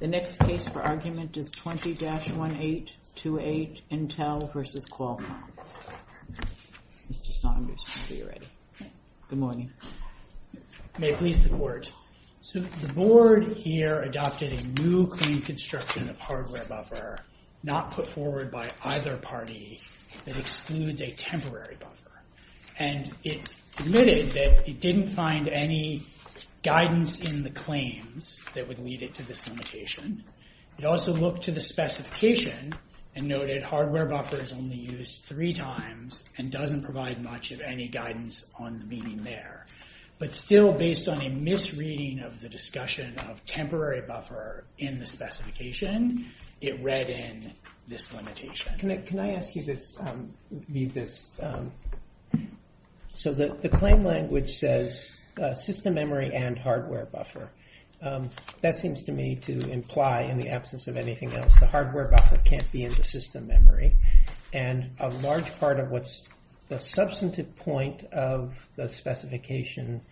The next case for argument is 20-1828, Intel v. Qualcomm. Mr. Saunders, are you ready? Good morning. May it please the Court. The Board here adopted a new claim construction of hardware buffer, not put forward by either party, that excludes a temporary buffer. And it admitted that it didn't find any guidance in the claims that would lead it to this limitation. It also looked to the specification and noted hardware buffer is only used three times and doesn't provide much of any guidance on the meaning there. But still, based on a misreading of the discussion of temporary buffer in the specification, it read in this limitation. Can I ask you to read this? So the claim language says system memory and hardware buffer. That seems to me to imply, in the absence of anything else, the hardware buffer can't be in the system memory. And a large part of what's the substantive point of the specification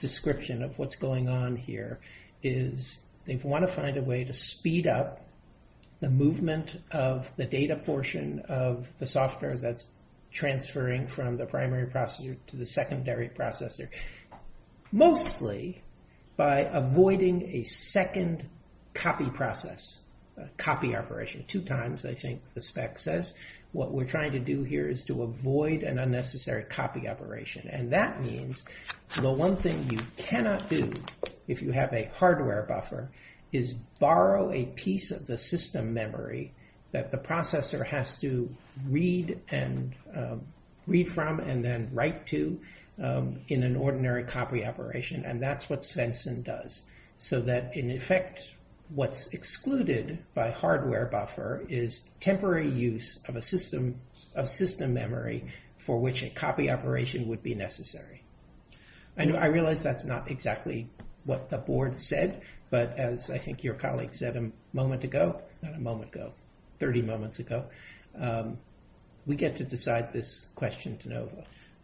description of what's going on here is they want to find a way to speed up the movement of the data portion of the software that's transferring from the primary processor to the secondary processor. Mostly by avoiding a second copy process, copy operation. Two times, I think the spec says. What we're trying to do here is to avoid an unnecessary copy operation. And that means the one thing you cannot do if you have a hardware buffer is borrow a piece of the system memory that the processor has to read from and then write to in an ordinary copy operation. And that's what Svensson does. So that, in effect, what's excluded by hardware buffer is temporary use of a system memory for which a copy operation would be necessary. I realize that's not exactly what the board said, but as I think your colleague said a moment ago, not a moment ago, 30 moments ago, we get to decide this question.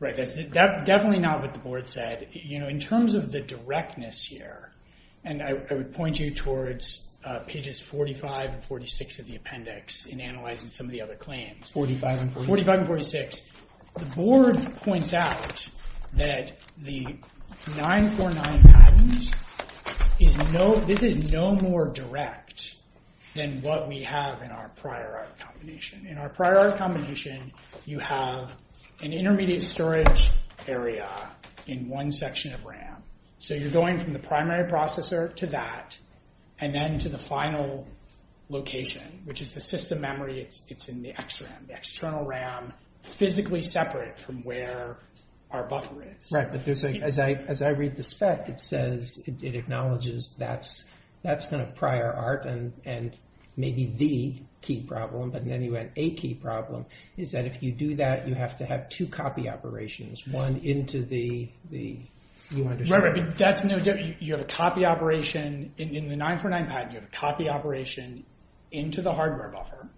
Right, that's definitely not what the board said. You know, in terms of the directness here, and I would point you towards pages 45 and 46 of the appendix in analyzing some of the other claims. 45 and 46. 45 and 46. The board points out that the 949 patents is no, this is no more direct than what we have in our prior art combination. In our prior art combination, you have an intermediate storage area in one section of RAM. So you're going from the primary processor to that and then to the final location, which is the system memory. It's in the external RAM, physically separate from where our buffer is. Right, but as I read the spec, it says, it acknowledges that's kind of prior art and maybe the key problem, but anyway, a key problem is that if you do that, you have to have two copy operations. Right, but that's no good. You have a copy operation in the 949 patent, you have a copy operation into the hardware buffer,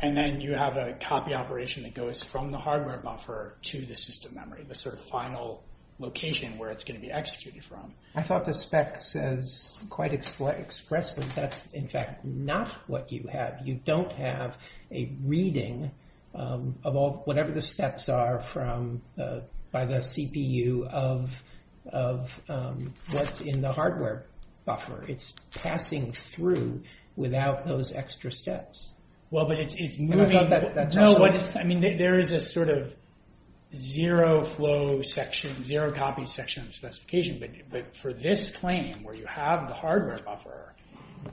and then you have a copy operation that goes from the hardware buffer to the system memory, the sort of final location where it's going to be executed from. I thought the spec says quite expressively that's in fact not what you have. You don't have a reading of whatever the steps are by the CPU of what's in the hardware buffer. It's passing through without those extra steps. I mean, there is a sort of zero flow section, zero copy section specification, but for this claim where you have the hardware buffer,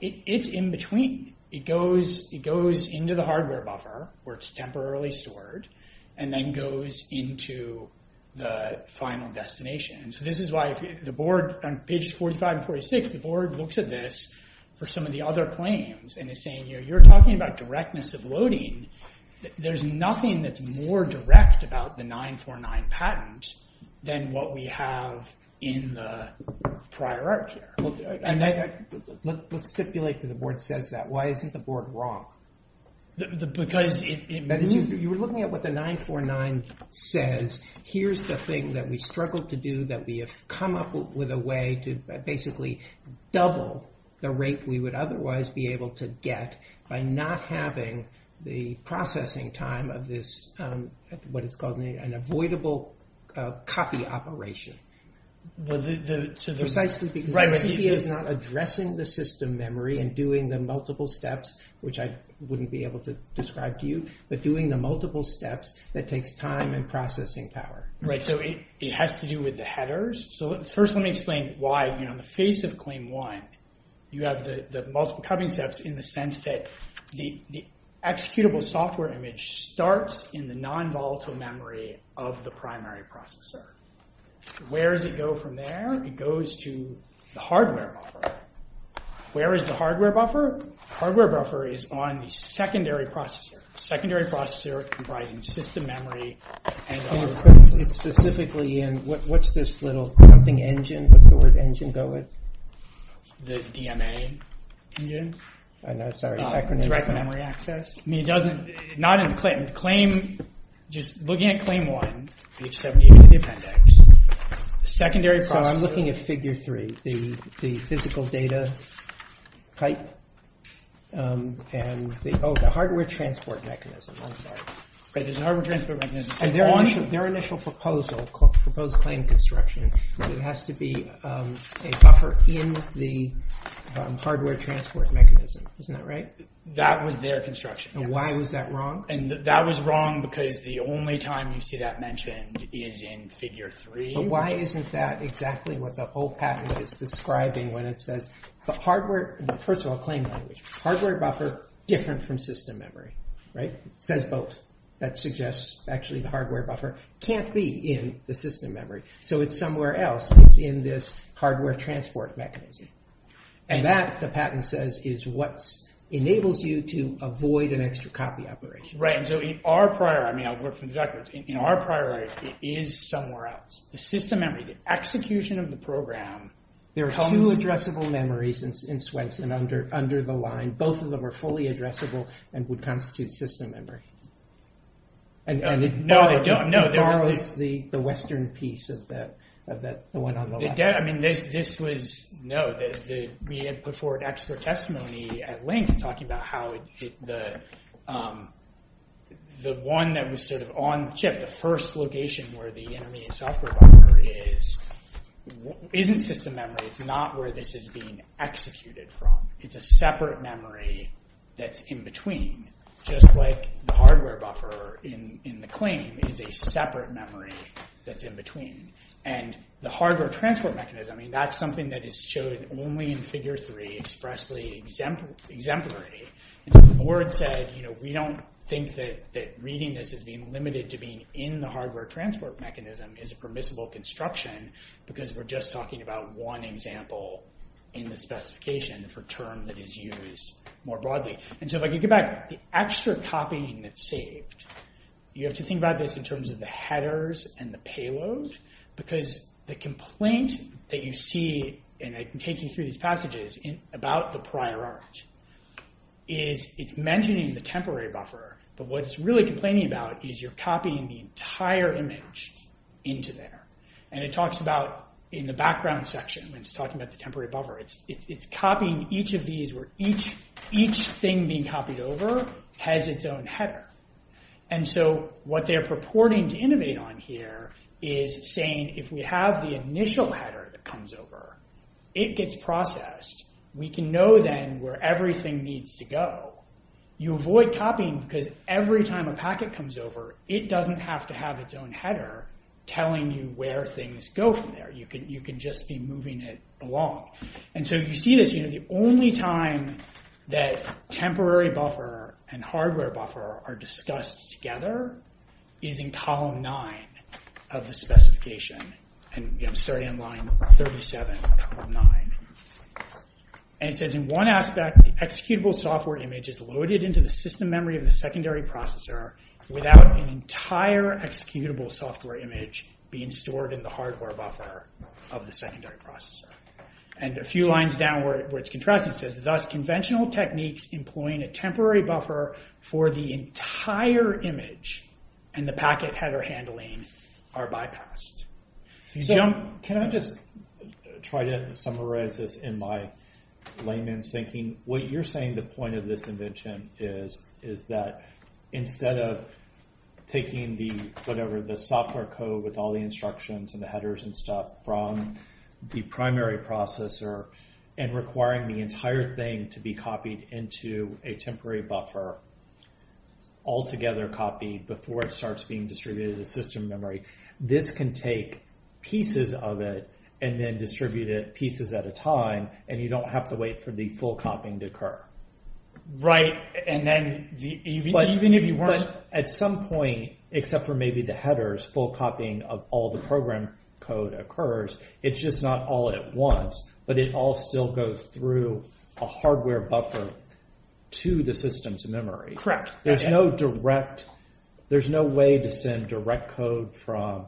it's in between. It goes into the hardware buffer where it's temporarily stored and then goes into the final destination. This is why the board, on pages 45 and 46, the board looks at this for some of the other claims and is saying, you know, you're talking about directness of loading. There's nothing that's more direct about the 949 patent than what we have in the prior art here. Let's stipulate that the board says that. Why is the board wrong? You were looking at what the 949 says. Here's the thing that we struggled to do that we have come up with a way to basically double the rate we would otherwise be able to get by not having the processing time of this, what is called an avoidable copy operation. Precisely because it's not addressing the system memory and doing the multiple steps, which I wouldn't be able to describe to you, but doing the multiple steps that takes time and processing power. Right, so it has to do with the headers. So first let me explain why in the face of claim one, you have the multiple cutting steps in the sense that the executable software image starts in the non-volatile memory of the primary processor. Where does it go from there? It goes to the hardware buffer. Where is the hardware buffer? The hardware buffer is on the secondary processor. Secondary processor comprises system memory and hardware. It's specifically in, what's this little something engine? What's the word engine? The DMA engine? I'm sorry, direct memory access? I mean it doesn't, not in claim, just looking at claim one, page 78 of the appendix. Secondary processor, I'm looking at figure three, the physical data type. Oh, the hardware transport mechanism, I'm sorry. Their initial proposal, proposed claim construction, has to be a buffer in the hardware transport mechanism. Isn't that right? That was their construction. Why was that wrong? That was wrong because the only time you see that mentioned is in figure three. Why isn't that exactly what the whole patent is describing when it says the hardware, first of all claim one, hardware buffer different from system memory? It says both. That suggests actually hardware buffer can't be in the system memory. So it's somewhere else. It's in this hardware transport mechanism. And that, the patent says, is what enables you to avoid an extra copy operation. Right. So in our prior, I mean I'll work with the directors, in our prior it is somewhere else. The system memory, the execution of the program. There are two addressable memories in Swenson under the line. Both of them are fully addressable and would constitute system memory. No, they don't. They're always the western piece of the one on the left. This was, no, we have put forward extra testimony at length talking about how the one that was sort of on chip, the first location where the intermediate software buffer is, isn't system memory. It's not where this is being executed from. It's a separate memory that's in between. Just like the hardware buffer in the claim is a separate memory that's in between. And the hardware transport mechanism, I mean that's something that is shown only in figure three expressly exemplary. The board said, you know, we don't think that reading this is being limited to being in the hardware transport mechanism is a permissible construction because we're just talking about one example in the specification for term that is used more broadly. And so if I could get back, the extra copying that's saved, you have to think about this in terms of the headers and the payloads because the complaint that you see, and I can take you through these passages about the prior art, is it's mentioning the temporary buffer. But what it's really complaining about is you're copying the entire image into there. And it talks about in the background section when it's talking about the temporary buffer. It's copying each of these where each thing being copied over has its own header. And so what they're purporting to innovate on here is saying if we have the initial header that comes over, it gets processed. We can know then where everything needs to go. You avoid copying because every time a packet comes over, it doesn't have to have its own header telling you where things go from there. You can just be moving it along. And so you see this, the only time that temporary buffer and hardware buffer are discussed together is in column nine of the specification. And I'm sorry, in line 37, column nine. And it says in one aspect, the executable software image is loaded into the system memory of the secondary processor without the entire executable software image being stored in the hardware buffer of the secondary processor. And a few lines down where it's contrasting says, thus conventional techniques employing a temporary buffer for the entire image and the packet header handling are bypassed. Can I just try to summarize this in my layman's thinking? What you're saying the point of this invention is is that instead of taking the software code with all the instructions and the headers and stuff from the primary processor and requiring the entire thing to be copied into a temporary buffer altogether copied before it starts being distributed to the system memory, this can take pieces of it and then distribute it pieces at a time and you don't have to wait for the full copying to occur. Right. At some point, except for maybe the headers, full copying of all the program code occurs. It's just not all at once, but it all still goes through a hardware buffer to the system's memory. Correct. There's no direct, there's no way to send direct code from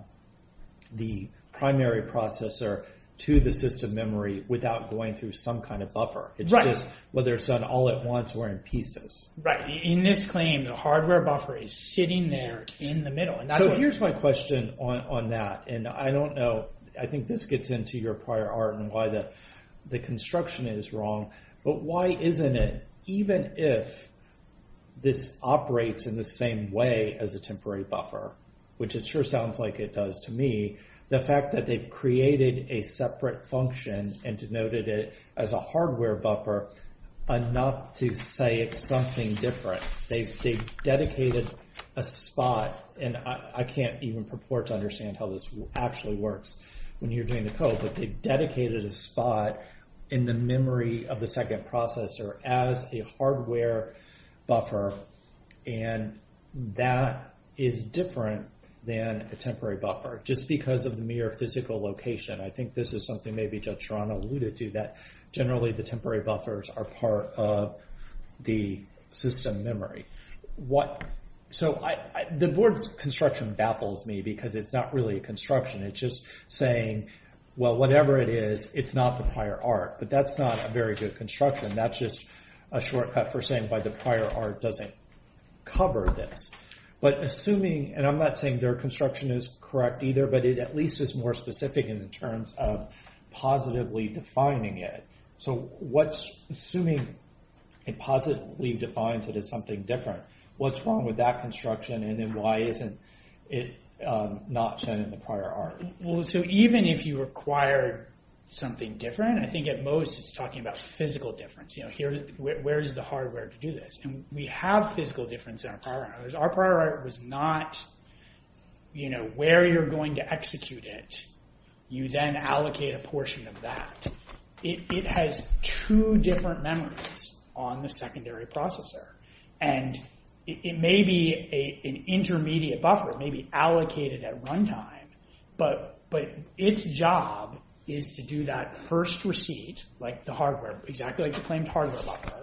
the primary processor to the system memory without going through some kind of buffer. Right. It's just whether it's done all at once or in pieces. Right. In this claim, the hardware buffer is sitting there in the middle. Here's my question on that, and I don't know, I think this gets into your prior art and why the construction is wrong, but why isn't it, even if this operates in the same way as a temporary buffer, which it sure sounds like it does to me, the fact that they've created a separate function and denoted it as a hardware buffer, enough to say it's something different. They've dedicated a spot, and I can't even purport to understand how this actually works when you're doing the code, but they've dedicated a spot in the memory of the second processor as a hardware buffer, and that is different than a temporary buffer, just because of the mere physical location. I think this is something maybe Judge Sharma alluded to, that generally the temporary buffers are part of the system memory. The board's construction baffles me because it's not really a construction. It's just saying, well, whatever it is, it's not the prior art, but that's not a very good construction. That's just a shortcut for saying why the prior art doesn't cover this. But assuming, and I'm not saying their construction is correct either, but it at least is more specific in terms of positively defining it. So assuming it positively defines that it's something different, what's wrong with that construction, and then why isn't it not set in the prior art? Even if you require something different, I think at most it's talking about physical difference. Where is the hardware to do this? We have physical difference in our prior art. Our prior art was not where you're going to execute it, you then allocate a portion of that. It has two different memories on the secondary processor. And it may be an intermediate buffer, it may be allocated at runtime, but its job is to do that first receipt, like the hardware, exactly like the plain hardware buffer,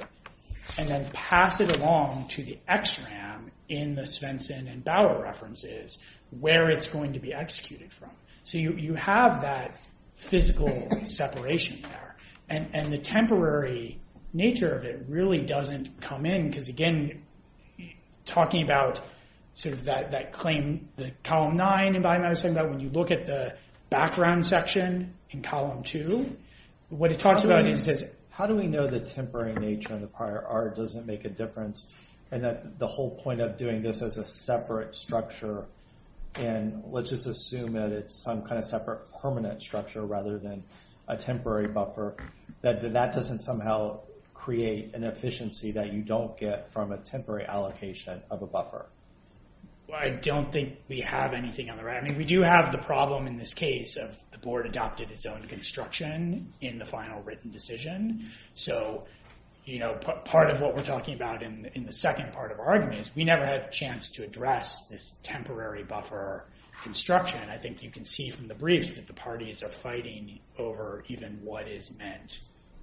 and then pass it along to the XRAM in the Svensson and Bauer references where it's going to be executed from. So you have that physical separation there. And the temporary nature of it really doesn't come in, because again, talking about that claim, column nine, when you look at the background section in column two, what it talks about is how do we know the temporary nature of the prior art doesn't make a difference, and that the whole point of doing this as a separate structure, and let's just assume that it's some kind of separate permanent structure rather than a temporary buffer, that that doesn't somehow create an efficiency that you don't get from a temporary allocation of a buffer. I don't think we have anything on the right. I mean, we do have the problem in this case of the board adopted its own construction in the final written decision. So part of what we're talking about in the second part of our argument is we never had a chance to address this temporary buffer construction. I think you can see from the briefs that the parties are fighting over even what is meant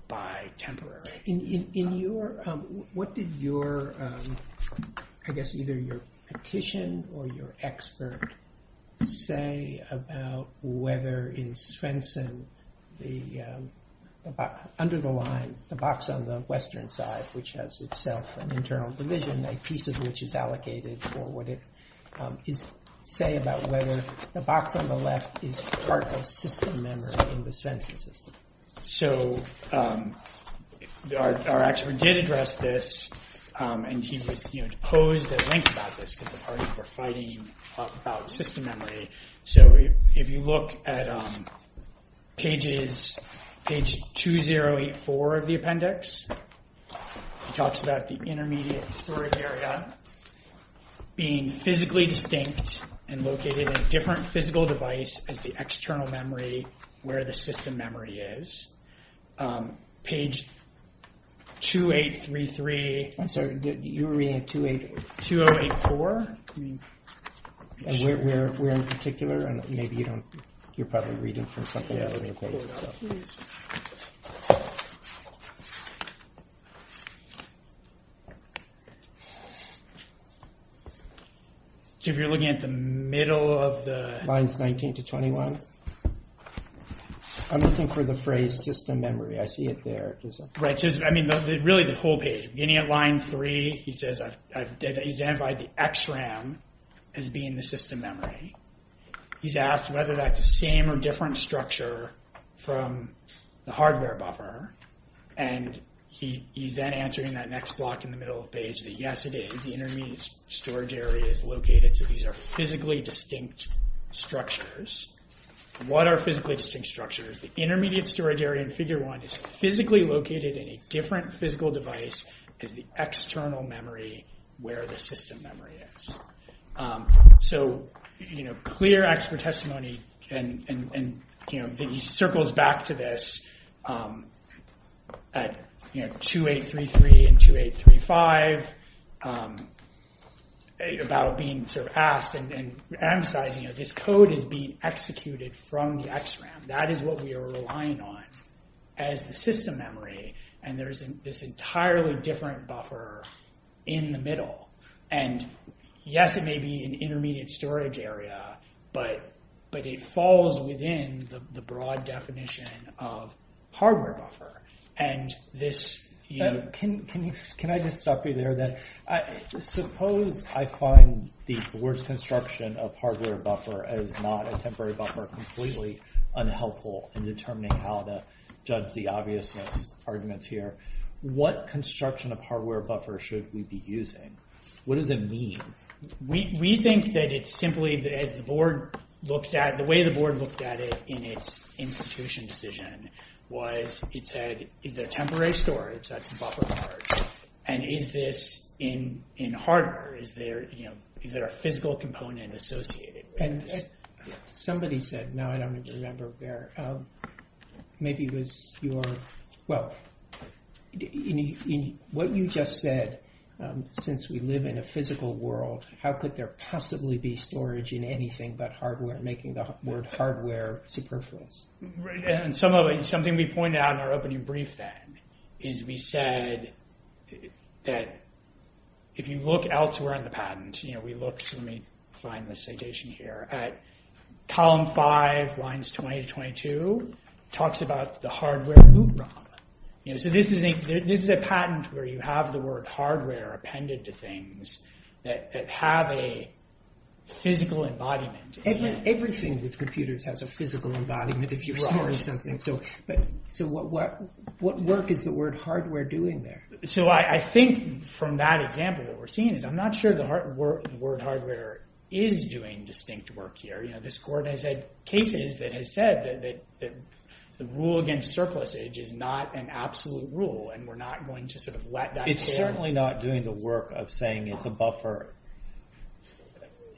by temporary. In your – what did your – I guess either your petition or your expert say about whether in Svensson the – under the line, the box on the western side, which has itself an internal division, a piece of which is allocated for what it – say about whether the box on the left is part of a system memory in the Svensson system. So our expert did address this, and he posed a link about this because the parties were fighting about system memory. So if you look at pages – page 2084 of the appendix, it talks about the intermediate storage area being physically distinct and located in a different physical device as the external memory where the system memory is. Page 2833 – I'm sorry, you were reading 2084? We're in particular, and maybe you don't – you're probably reading from something else. So if you're looking at the middle of the – Lines 19 to 21? I'm looking for the phrase system memory. I see it there. Right. I mean, really the whole page. Beginning at line 3, he says I've identified the XRAM as being the system memory. He's asked whether that's the same or different structure from the hardware buffer, and he's then answering that next block in the middle of the page that, yes, it is. The intermediate storage area is located, so these are physically distinct structures. What are physically distinct structures? The intermediate storage area in figure 1 is physically located in a different physical device as the external memory where the system memory is. So clear expert testimony, and he circles back to this at 2833 and 2835 about being asked and emphasizing that this code is being executed from the XRAM. That is what we are relying on as the system memory, and there's this entirely different buffer in the middle. And, yes, it may be an intermediate storage area, but it falls within the broad definition of hardware buffer. And this – Can I just stop you there? Suppose I find the worst construction of hardware buffer as not a temporary buffer completely unhelpful in determining how to judge the obviousness arguments here. What construction of hardware buffer should we be using? What does it mean? We think that it's simply the way the board looked at it in its institution decision was it's a temporary storage buffer, and is this in hardware? Is there a physical component associated with it? Somebody said – no, I don't remember where. Maybe it was your – well, what you just said, since we live in a physical world, how could there possibly be storage in anything but hardware, making the word hardware superfluous? And something we pointed out in our opening brief then is we said that if you look elsewhere on the patent, we looked – let me find the citation here. Column 5, lines 20 to 22 talks about the hardware loophole. So this is a patent where you have the word hardware appended to things that have a physical embodiment. Everything with computers has a physical embodiment if you're storing something. So what work is the word hardware doing there? So I think from that example that we're seeing is I'm not sure the word hardware is doing distinct work here. You know, this court has had cases that has said that the rule against surplus age is not an absolute rule, and we're not going to sort of let that change. It's certainly not doing the work of saying it's a buffer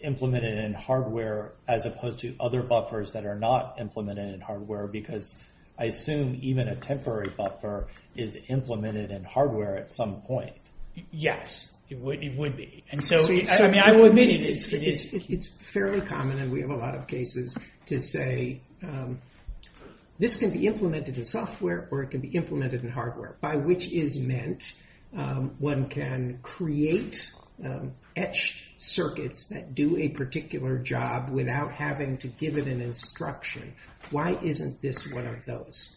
implemented in hardware as opposed to other buffers that are not implemented in hardware, because I assume even a temporary buffer is implemented in hardware at some point. Yes, it would be. It's fairly common, and we have a lot of cases to say this can be implemented in software or it can be implemented in hardware, by which is meant one can create etched circuits that do a particular job without having to give it an instruction. Why isn't this one of those?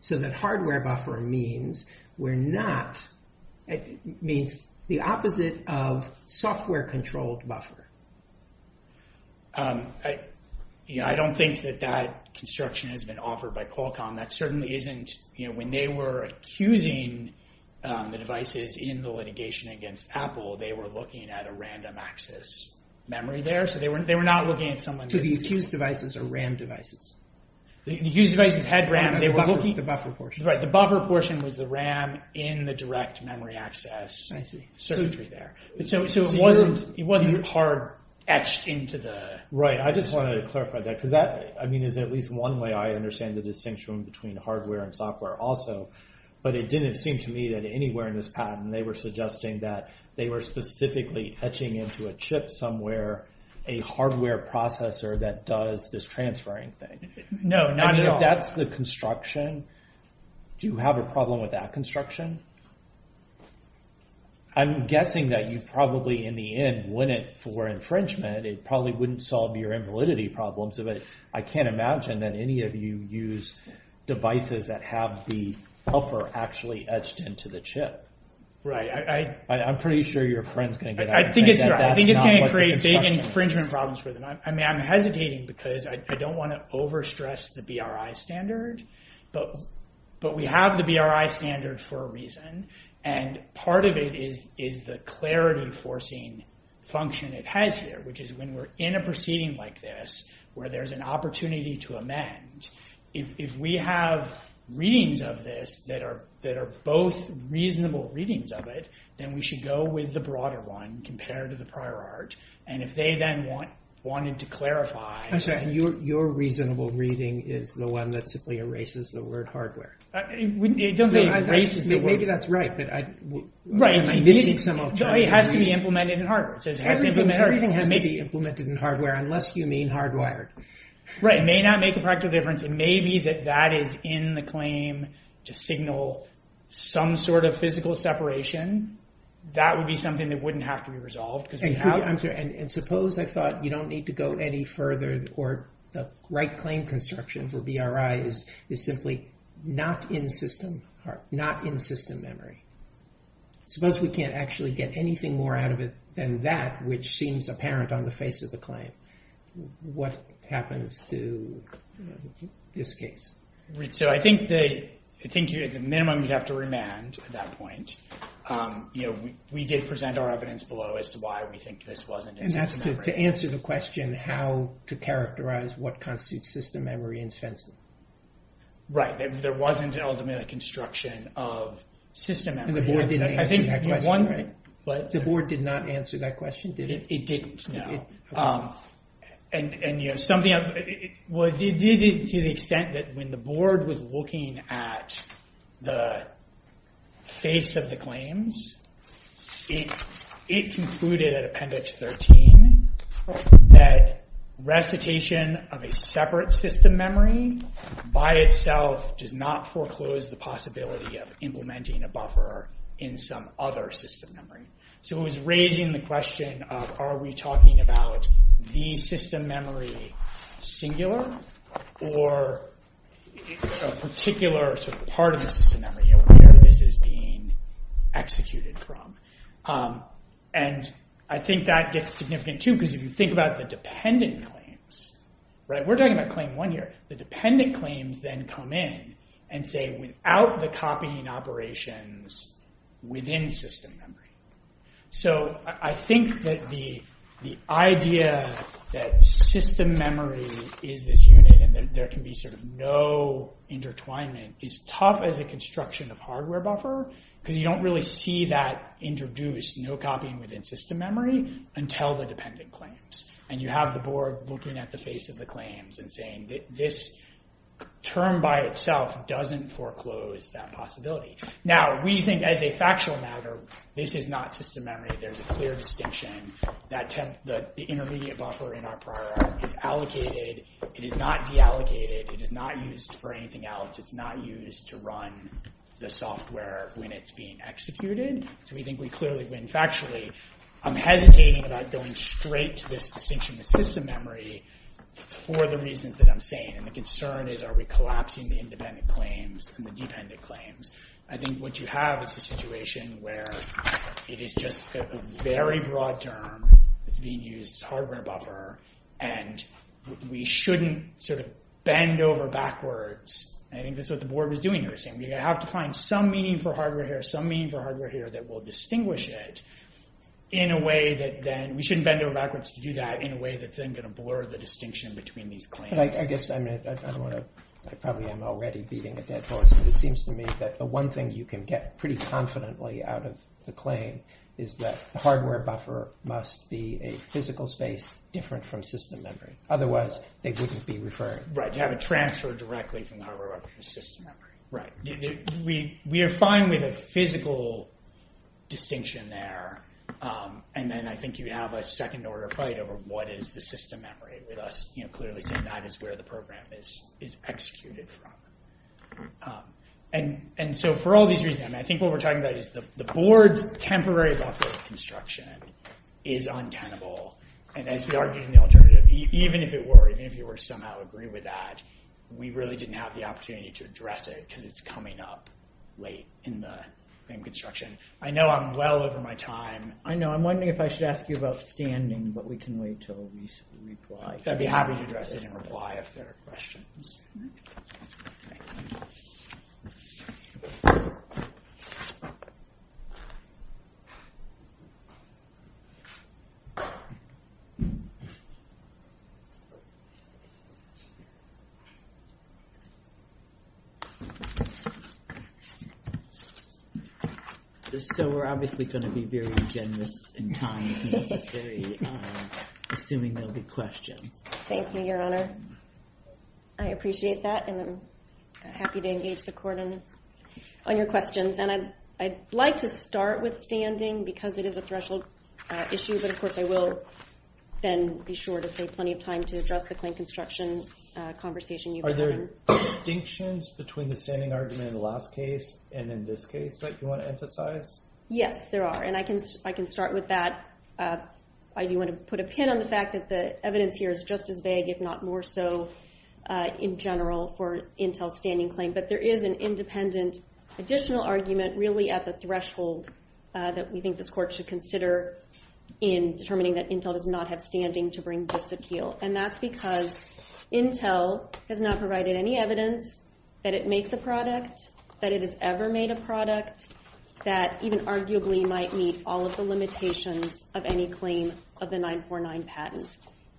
So that hardware buffer means we're not – it means the opposite of software-controlled buffer. I don't think that that construction has been offered by Qualcomm. That certainly isn't – you know, when they were accusing the devices in the litigation against Apple, they were looking at a random access memory there, so they were not looking at someone's – So the accused devices are RAM devices? The accused devices had RAM. They were looking at the buffer portion. Right, the buffer portion was the RAM in the direct memory access circuitry there. So it wasn't hard etched into the – Right, I just wanted to clarify that, because that, I mean, is at least one way I understand the distinction between hardware and software also, but it didn't seem to me that anywhere in this patent they were suggesting that they were specifically etching into a chip somewhere a hardware processor that does this transferring thing. No, not at all. I mean, if that's the construction, do you have a problem with that construction? I'm guessing that you probably, in the end, win it for infringement. It probably wouldn't solve your invalidity problems, but I can't imagine that any of you use devices that have the buffer actually etched into the chip. Right. I'm pretty sure your friend's going to get out of hand. I think it's going to create big infringement problems for them. I mean, I'm hesitating because I don't want to overstress the BRI standard, but we have the BRI standard for a reason, and part of it is the clarity enforcing function it has here, which is when we're in a proceeding like this where there's an opportunity to amend, if we have readings of this that are both reasonable readings of it, then we should go with the broader one compared to the prior art, and if they then wanted to clarify. I'm sorry. Your reasonable reading is the one that simply erases the word hardware. It doesn't erase the word. Maybe that's right. Right. It has to be implemented in hardware. It may be implemented in hardware unless you mean hardwired. Right. It may not make a practical difference. It may be that that is in the claim to signal some sort of physical separation. That would be something that wouldn't have to be resolved. And suppose I thought you don't need to go any further, or the right claim construction for BRI is simply not in system memory. Suppose we can't actually get anything more out of it than that, which seems apparent on the face of the claim. What happens to this case? I think the minimum you'd have to remand at that point. We did present our evidence below as to why we think this wasn't in system memory. To answer the question how to characterize what constitutes system memory in census. Right. There wasn't an ultimate construction of system memory. The board did not answer that question. The board did not answer that question, did it? It didn't. No. And, you know, something else. Well, it did to the extent that when the board was looking at the face of the claims, it concluded at Appendix 13 that recitation of a separate system memory by itself does not foreclose the possibility of implementing a buffer in some other system memory. So it was raising the question of are we talking about the system memory singular or a particular sort of part of the system memory, you know, where this is being executed from. And I think that gets significant, too, because if you think about the dependent claims, right, we're talking about Claim 1 here. The dependent claims then come in and say without the copying operations within system memory. So I think that the idea that system memory is this unit and that there can be sort of no intertwinement is tough as a construction of hardware buffer because you don't really see that introduced, no copying within system memory until the dependent claims. And you have the board looking at the face of the claims and saying this term by itself doesn't foreclose that possibility. Now, we think as a factual matter, this is not system memory. There's a clear distinction that the intermediate buffer in our priority is allocated. It is not deallocated. It is not used for anything else. It's not used to run the software when it's being executed. So we think we clearly win factually. I'm hesitating about going straight to this distinction of system memory for the reasons that I'm saying. And the concern is are we collapsing the independent claims and the dependent claims. I think what you have is a situation where it is just a very broad term being used as hardware buffer and we shouldn't sort of bend over backwards. And I think this is what the board was doing here. You have to find some meaning for hardware here, some meaning for hardware here that will distinguish it in a way that then we shouldn't bend over backwards to do that in a way that's then going to blur the distinction between these claims. And I guess I probably am already beating a dead horse. But it seems to me that the one thing you can get pretty confidently out of the claim is that the hardware buffer must be a physical space different from system memory. Otherwise, it wouldn't be referred. Right, you have to transfer directly from hardware buffer to system memory. Right. We are fine with a physical distinction there. And then I think you have a second-order fight over what is the system memory. We clearly think that is where the program is executed from. And so for all these reasons, I think what we're talking about is the board temporary buffer construction is untenable. And as we argue in the alternative, even if it were, even if you were to somehow agree with that, we really didn't have the opportunity to address it because it's coming up late in the construction. I know I'm well over my time. I know. I'm wondering if I should ask you about standing, but we can wait until we reply. I'd be happy to address it and reply if there are questions. So we're obviously going to be very generous in time, assuming there will be questions. Thank you, Your Honor. I appreciate that, and I'm happy to engage the court on your questions. And I'd like to start with standing because it is a threshold issue, but, of course, I will then be sure to take plenty of time to address the claim construction conversation Are there distinctions between the standing argument in the last case and in this case that you want to emphasize? Yes, there are, and I can start with that. I do want to put a pin on the fact that the evidence here is just as vague, if not more so in general, for Intel's standing claim. But there is an independent additional argument really at the threshold that we think this court should consider in determining that Intel does not have standing to bring this appeal. And that's because Intel has not provided any evidence that it makes a product, that it has ever made a product, that even arguably might meet all of the limitations of any claim of the 949 patent.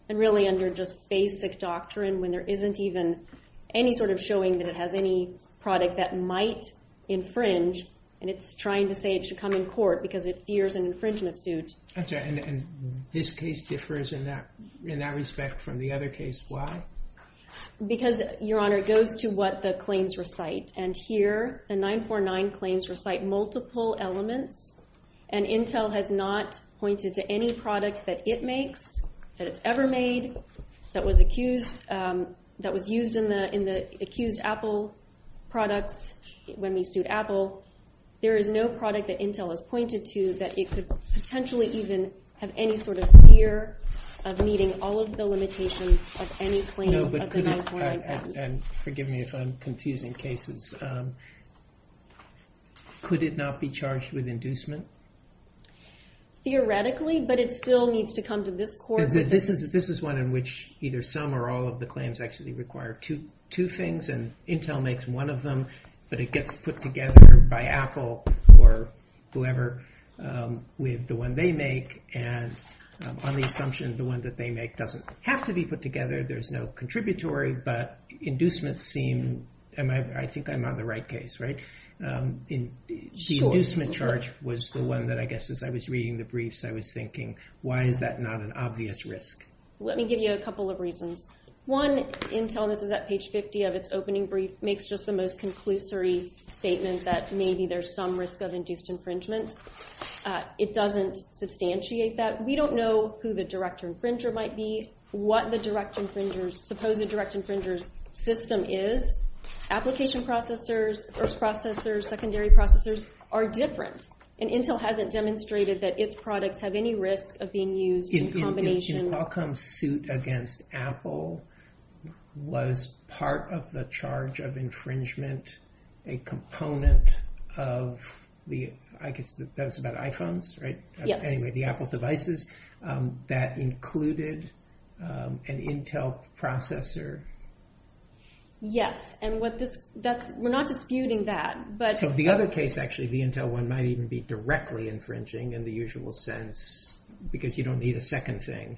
And really under just basic doctrine, when there isn't even any sort of showing that it has any product that might infringe, and it's trying to say it should come in court because it fears an infringement suit. And this case differs in that respect from the other case. Why? Because, Your Honor, it goes to what the claims recite. And here, the 949 claims recite multiple elements, and Intel has not pointed to any product that it makes, that it's ever made, that was used in the accused Apple product when we sued Apple. There is no product that Intel has pointed to that it could potentially even have any sort of fear of meeting all of the limitations of any claim of the 949 patent. And forgive me if I'm confusing cases. Could it not be charged with inducement? Theoretically, but it still needs to come to this court. This is one in which either some or all of the claims actually require two things, and Intel makes one of them, but it gets put together by Apple or whoever with the one they make. And on the assumption the one that they make doesn't have to be put together, there's no contributory, but inducement seemed, I think I'm on the right case, right? The inducement charge was the one that I guess as I was reading the briefs, I was thinking, why is that not an obvious risk? Let me give you a couple of reasons. One, Intel, this is at page 50 of its opening brief, makes just the most conclusory statement that maybe there's some risk of induced infringement. It doesn't substantiate that. We don't know who the direct infringer might be, what the direct infringer's, suppose the direct infringer's system is. Application processors, first processors, secondary processors are different. And Intel hasn't demonstrated that its products have any risk of being used in combination. The Qualcomm suit against Apple was part of the charge of infringement, a component of the, I guess that's about iPhones, right? Anyway, the Apple devices that included an Intel processor. Yes, and we're not disputing that. So the other case actually, the Intel one might even be directly infringing in the usual sense because you don't need a second thing.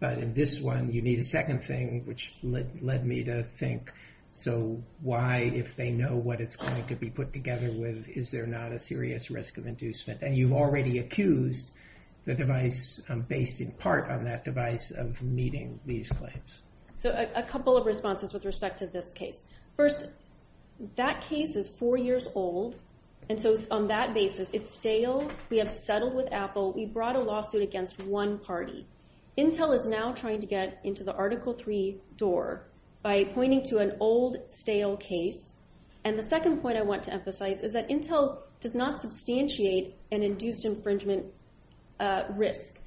But in this one, you need a second thing, which led me to think, so why if they know what it's going to be put together with, is there not a serious risk of inducement? And you've already accused the device based in part on that device of meeting these claims. So a couple of responses with respect to this case. First, that case is four years old. And so on that basis, it's stale. We have settled with Apple. We brought a lawsuit against one party. Intel is now trying to get into the Article III door by pointing to an old, stale case. And the second point I want to emphasize is that Intel does not substantiate an induced infringement risk.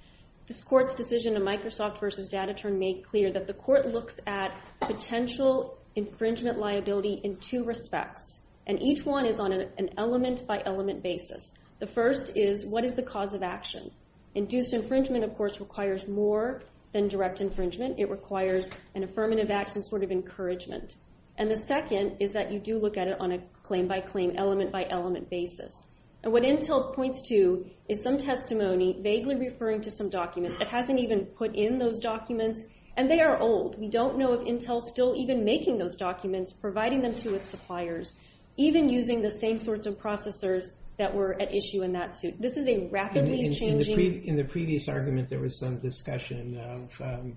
This court's decision in Microsoft versus DataTerm made clear that the court looks at potential infringement liability in two respects. And each one is on an element by element basis. The first is, what is the cause of action? Induced infringement, of course, requires more than direct infringement. It requires an affirmative action sort of encouragement. And the second is that you do look at it on a claim by claim, element by element basis. And what Intel points to is some testimony vaguely referring to some documents. It hasn't even put in those documents. And they are old. We don't know if Intel is still even making those documents, providing them to its suppliers, even using the same sorts of processors that were at issue in that suit. This is a rapidly changing... In the previous argument, there was some discussion of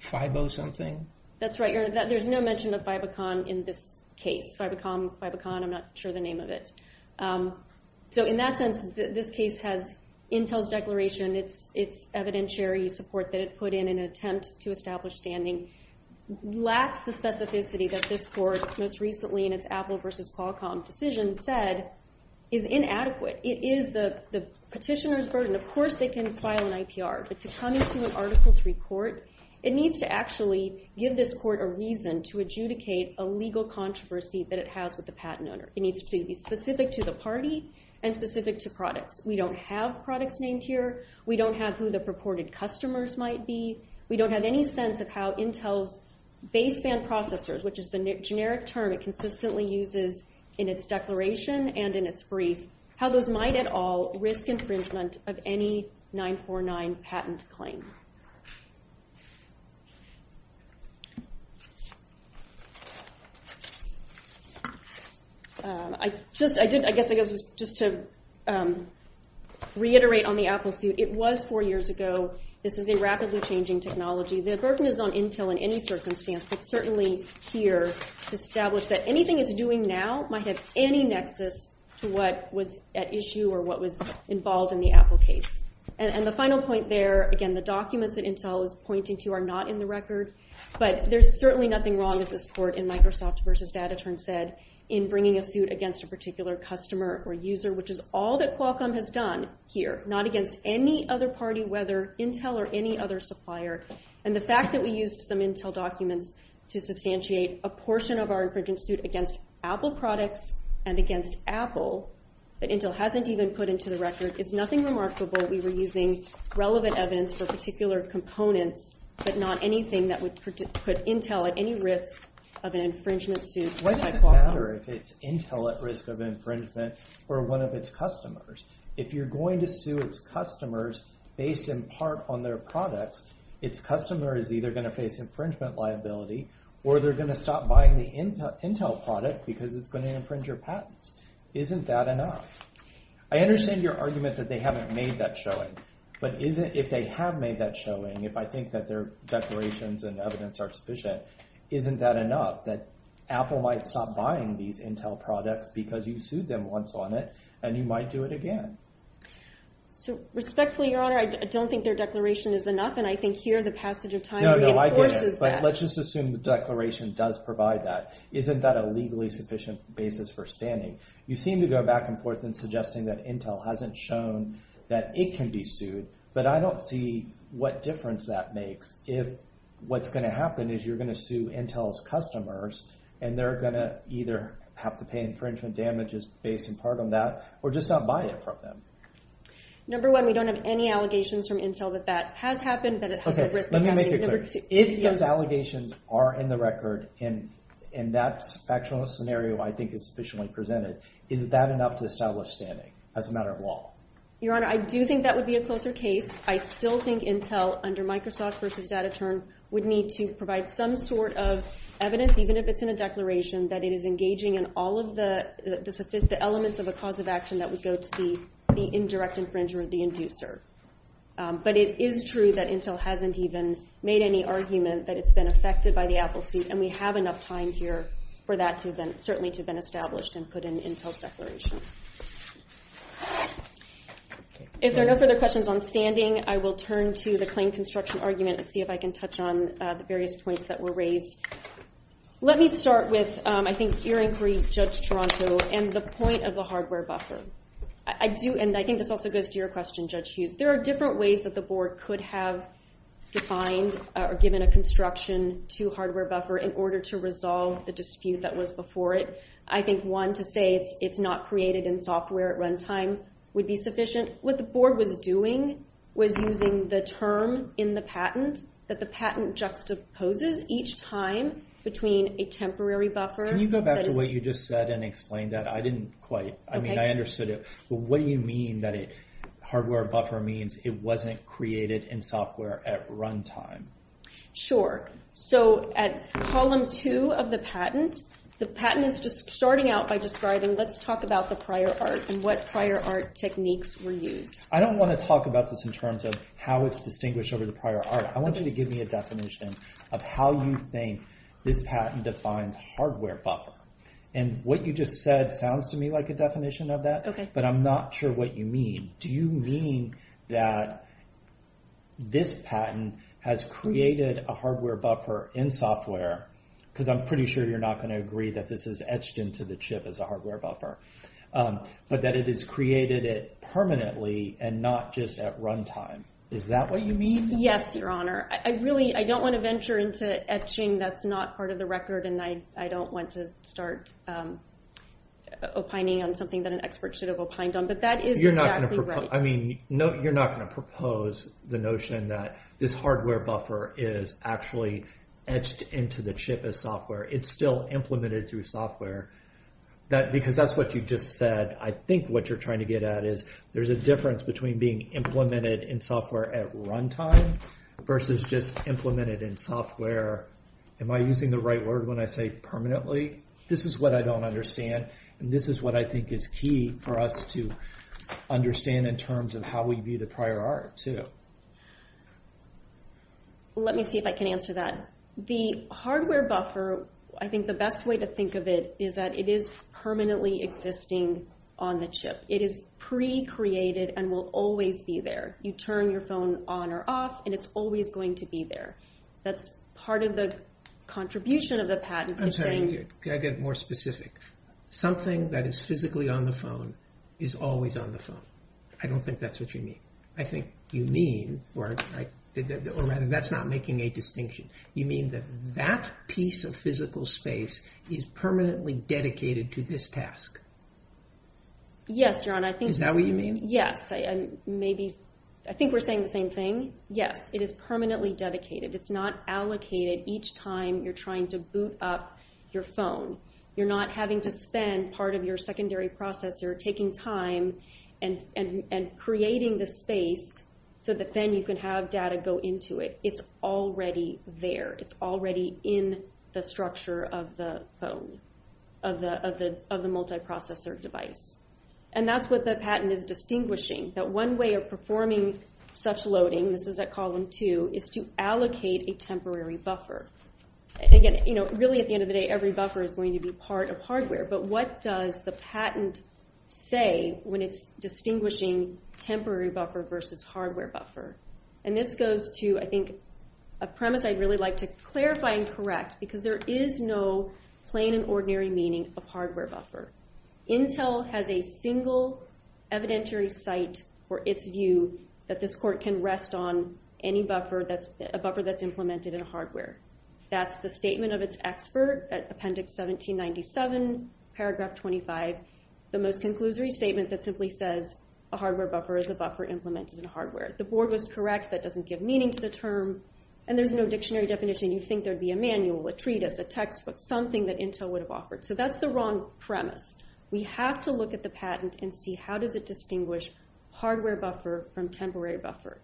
FIBO something? That's right. There's no mention of FIBOCON in this case. FIBOCON, FIBOCON, I'm not sure the name of it. So in that sense, this case has Intel's declaration, its evidentiary support that it put in an attempt to establish standing, lacks the specificity that this court most recently in its Apple versus Qualcomm decision said is inadequate. It is the petitioner's burden. Of course, they can file an IPR. But to come into an Article III court, it needs to actually give this court a reason to adjudicate a legal controversy that it has with the patent owner. It needs to be specific to the party and specific to products. We don't have products named here. We don't have who the purported customers might be. We don't have any sense of how Intel's baseband processors, which is the generic term it consistently uses in its declaration and in its brief, how those might at all risk infringement of any 949 patent claim. I guess just to reiterate on the Apple suit, it was four years ago. This is a rapidly changing technology. The burden is on Intel in any circumstance, but certainly here to establish that anything it's doing now might have any nexus to what was at issue or what was involved in the Apple case. And the final point there, again, the documents that Intel is pointing to are not in the record. But there's certainly nothing wrong with this court in Microsoft versus DataTerm said in bringing a suit against a particular customer or user, which is all that Qualcomm has done here, not against any other party, whether Intel or any other supplier. And the fact that we used some Intel documents to substantiate a portion of our infringement suit against Apple products and against Apple that Intel hasn't even put into the record is nothing remarkable. We were using relevant evidence for particular components, but not anything that would put Intel at any risk of an infringement suit. What does it matter if it's Intel at risk of infringement or one of its customers? If you're going to sue its customers based in part on their products, its customer is either going to face infringement liability or they're going to stop buying the Intel product because it's going to infringe your patent. Isn't that enough? I understand your argument that they haven't made that showing, but if they have made that showing, if I think that their declarations and evidence are sufficient, isn't that enough, that Apple might stop buying these Intel products because you sued them once on it, and you might do it again? Respectfully, Your Honor, I don't think their declaration is enough, and I think here the passage of time reinforces that. Let's just assume the declaration does provide that. Isn't that a legally sufficient basis for standing? You seem to go back and forth in suggesting that Intel hasn't shown that it can be sued, but I don't see what difference that makes if what's going to happen is you're going to sue Intel's customers and they're going to either have to pay infringement damages based in part on that, or just stop buying the program. Number one, we don't have any allegations from Intel that that has happened, that it has been written. Okay, let me make it clear. If those allegations are in the record, and that's an actual scenario I think is sufficiently presented, is that enough to establish standing as a matter of law? Your Honor, I do think that would be a closer case. I still think Intel, under Microsoft versus Data Terms, would need to provide some sort of evidence, even if it's in a declaration, that it is engaging in all of the elements of a cause of action that would go to the indirect infringement of the inducer. But it is true that Intel hasn't even made any argument that it's been affected by the Apple suit, and we have enough time here for that certainly to have been established and put in Intel's declaration. If there are no further questions on standing, I will turn to the claim construction argument and see if I can touch on the various points that were raised. Let me start with, I think, your inquiry, Judge Toronto, and the point of the hardware buffer. And I think this also goes to your question, Judge Hughes. There are different ways that the Board could have defined or given a construction to hardware buffer in order to resolve the dispute that was before it. I think one to say it's not created in software at run time would be sufficient. What the Board was doing was using the term in the patent that the patent juxtaposes each time between a temporary buffer. Can you go back to what you just said and explain that? I didn't quite, I mean, I understood it. But what do you mean that hardware buffer means it wasn't created in software at run time? Sure. So at column two of the patent, the patent is just starting out by describing, let's talk about the prior art and what prior art techniques were used. I don't want to talk about this in terms of how it's distinguished over the prior art. I want you to give me a definition of how you think this patent defines hardware buffer. And what you just said sounds to me like a definition of that, but I'm not sure what you mean. Do you mean that this patent has created a hardware buffer in software? Because I'm pretty sure you're not going to agree that this is etched into the chip as a hardware buffer. But that it is created permanently and not just at run time. Is that what you mean? Yes, your honor. I really, I don't want to venture into etching that's not part of the record and I don't want to start opining on something that an expert should have opined on. But that is exactly right. You're not going to propose the notion that this hardware buffer is actually etched into the chip as software. It's still implemented through software. Because that's what you just said. I think what you're trying to get at is there's a difference between being implemented in software at run time versus just implemented in software. Am I using the right word when I say permanently? This is what I don't understand. This is what I think is key for us to understand in terms of how we view the prior art, too. Let me see if I can answer that. The hardware buffer, I think the best way to think of it is that it is permanently existing on the chip. It is pre-created and will always be there. You turn your phone on or off and it's always going to be there. That's part of the contribution of the patent. I'm sorry, can I get more specific? Something that is physically on the phone is always on the phone. I don't think that's what you mean. I think you mean, or that's not making a distinction. You mean that that piece of physical space is permanently dedicated to this task? Yes, John. Is that what you mean? Yes, I think we're saying the same thing. Yes, it is permanently dedicated. It's not allocated each time you're trying to boot up your phone. You're not having to spend part of your secondary processor taking time and creating the space so that then you can have data go into it. It's already there. It's already in the structure of the phone, of the multiprocessor device. And that's what the patent is distinguishing, that one way of performing such loading, this is at column two, is to allocate a temporary buffer. Again, really at the end of the day, every buffer is going to be part of hardware, but what does the patent say when it's distinguishing temporary buffer versus hardware buffer? And this goes to, I think, a premise I'd really like to clarify and correct, because there is no plain and ordinary meaning of hardware buffer. Intel has a single evidentiary site for its view that this court can rest on any buffer that's implemented in hardware. That's the statement of its expert, that's Appendix 1797, Paragraph 25, the most conclusory statement that simply says a hardware buffer is a buffer implemented in hardware. The board was correct, that doesn't give meaning to the term, and there's no dictionary definition. You'd think there'd be a manual, a treatise, a textbook, something that Intel would have offered. So that's the wrong premise. We have to look at the patent and see how does it distinguish hardware buffer from temporary buffer.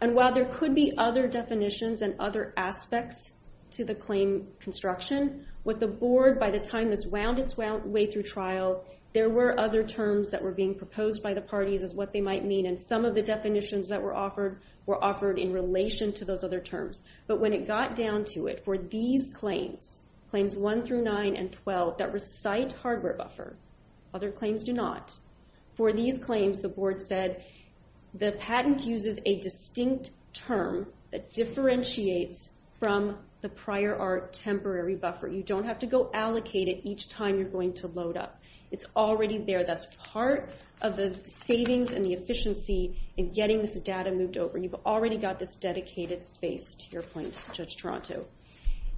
And while there could be other definitions and other aspects to the claim construction, what the board, by the time it's wound its way through trial, there were other terms that were being proposed by the parties as what they might mean, and some of the definitions that were offered were offered in relation to those other terms. But when it got down to it, for these claims, Claims 1 through 9 and 12 that recite hardware buffer, other claims do not, for these claims the board said the patent uses a distinct term that differentiates from the prior art temporary buffer. You don't have to go allocate it each time you're going to load up. It's already there. That's part of the savings and the efficiency in getting this data moved over. You've already got this dedicated space, to your point, Judge Toronto.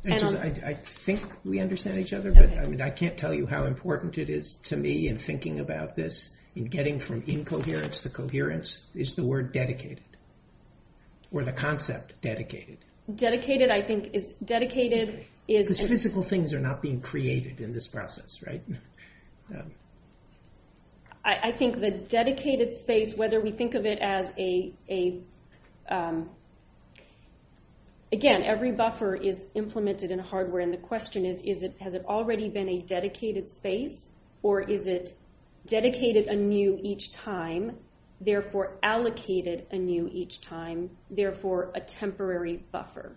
I think we understand each other, but I can't tell you how important it is to me in thinking about this, in getting from incoherence to coherence, is the word dedicated, or the concept dedicated. Dedicated, I think, is... Physical things are not being created in this process, right? I think the dedicated space, whether we think of it as a... Again, every buffer is implemented in hardware, and the question is, has it already been a dedicated space, or is it dedicated anew each time, therefore allocated anew each time, therefore a temporary buffer?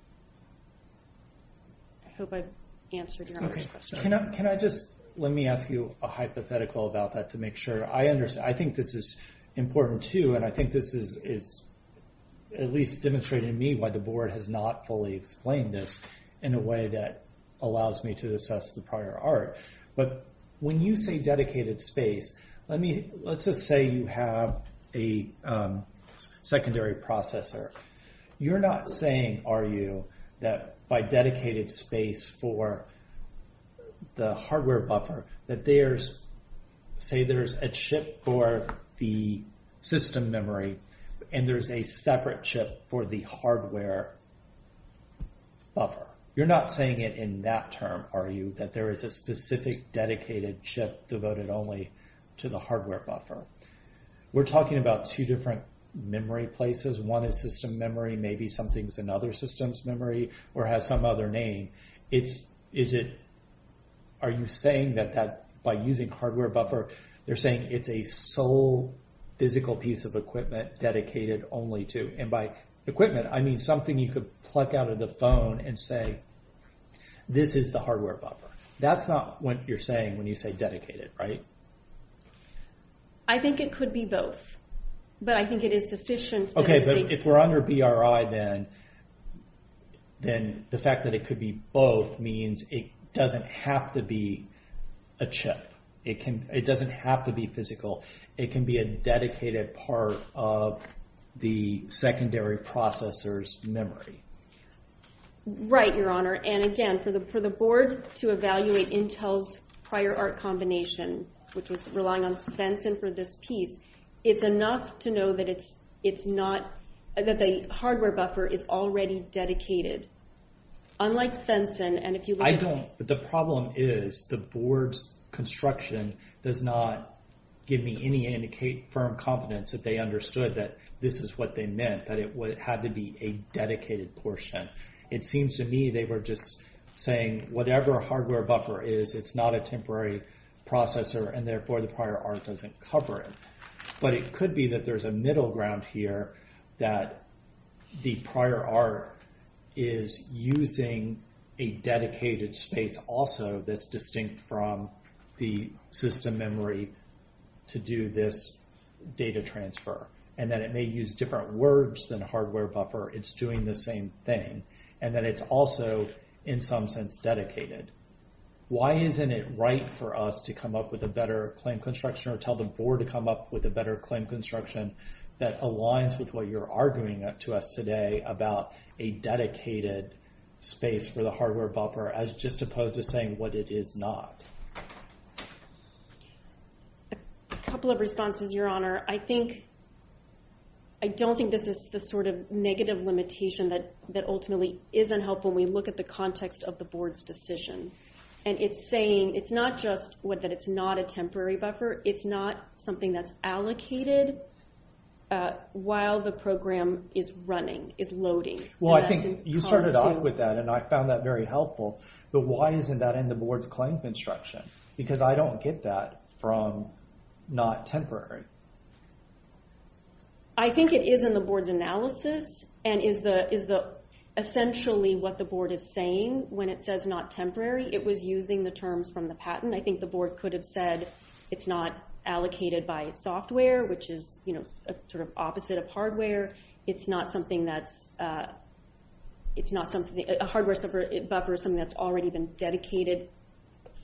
I hope I've answered your question. Can I just... Let me ask you a hypothetical about that, to make sure I understand. I think this is important, too, and I think this is, at least, demonstrating to me why the board has not fully explained this in a way that allows me to assess the prior art. When you say dedicated space, let's just say you have a secondary processor. You're not saying, are you, that by dedicated space for... The hardware buffer, that there's... Say there's a chip for the system memory, and there's a separate chip for the hardware buffer. You're not saying it in that term, are you, that there is a specific dedicated chip devoted only to the hardware buffer. We're talking about two different memory places. One is system memory. Maybe something's another system's memory or has some other name. Are you saying that by using hardware buffer, you're saying it's a sole physical piece of equipment dedicated only to... And by equipment, I mean something you could pluck out of the phone and say, this is the hardware buffer. That's not what you're saying when you say dedicated, right? I think it could be both, but I think it is decisions... Okay, but if we're under BRI, then the fact that it could be both means it doesn't have to be a chip. It doesn't have to be physical. It can be a dedicated part of the secondary processor's memory. Right, Your Honor. And again, for the board to evaluate Intel's prior art combination, which was relying on Sensen for this piece, it's enough to know that it's not... That the hardware buffer is already dedicated. Unlike Sensen, and if you... I don't... The problem is the board's construction does not give me any firm confidence that they understood that this is what they meant, that it would have to be a dedicated portion. It seems to me they were just saying whatever hardware buffer is, it's not a temporary processor, and therefore the prior art doesn't cover it. But it could be that there's a middle ground here that the prior art is using a dedicated space also that's distinct from the system memory to do this data transfer, and that it may use different words than hardware buffer. It's doing the same thing, and that it's also, in some sense, dedicated. Why isn't it right for us to come up with a better claim construction or tell the board to come up with a better claim construction that aligns with what you're arguing to us today about a dedicated space for the hardware buffer as just opposed to saying what it is not? A couple of responses, Your Honor. I think... I don't think this is the sort of negative limitation that ultimately isn't helpful when we look at the context of the board's decision. And it's saying it's not just that it's not a temporary buffer. It's not something that's allocated while the program is running, is loading. Well, I think you started off with that, and I found that very helpful. But why isn't that in the board's claims instruction? Because I don't get that from not temporary. I think it is in the board's analysis and is essentially what the board is saying when it says not temporary. It was using the term from the patent. I think the board could have said it's not allocated by software, which is, you know, sort of opposite of hardware. It's not something that's... It's not something... A hardware buffer is something that's already been dedicated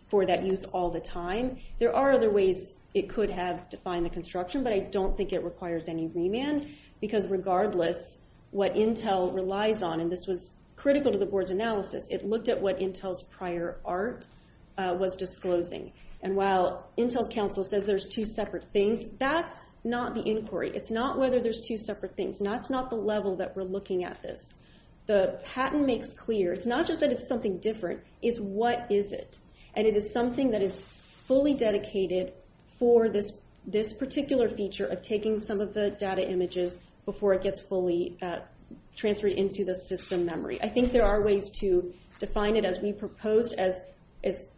for that use all the time. There are other ways it could have defined the construction, but I don't think it requires any remand because regardless what Intel relies on, and this was critical to the board's analysis, it looked at what Intel's prior art was disclosing. And while Intel counsel says there's two separate things, that's not the inquiry. It's not whether there's two separate things. That's not the level that we're looking at this. The patent makes clear, it's not just that it's something different, it's what is it. And it is something that is fully dedicated for this particular feature of taking some of the data images before it gets fully transferred into the system memory. I think there are ways to define it as we proposed as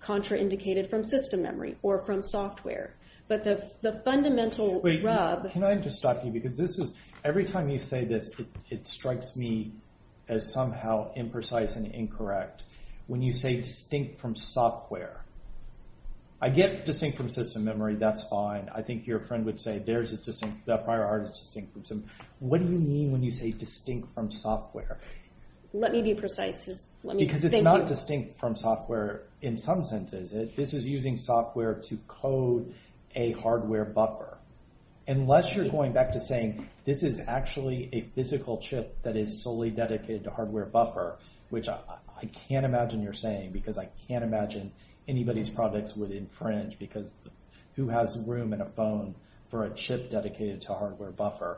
contraindicated from system memory or from software. But the fundamental rub... Wait, can I just stop you? Because this is... Every time you say that it strikes me as somehow imprecise and incorrect, when you say distinct from software, I get distinct from system memory, that's fine. I think your friend would say there's a system prior art distinction. What do you mean when you say distinct from software? Let me be precise. Because it's not distinct from software in some senses. This is using software to code a hardware buffer. Unless you're going back to saying this is actually a physical chip that is solely dedicated to hardware buffer, which I can't imagine you're saying because I can't imagine anybody's products would infringe because who has room in a phone for a chip dedicated to hardware buffer?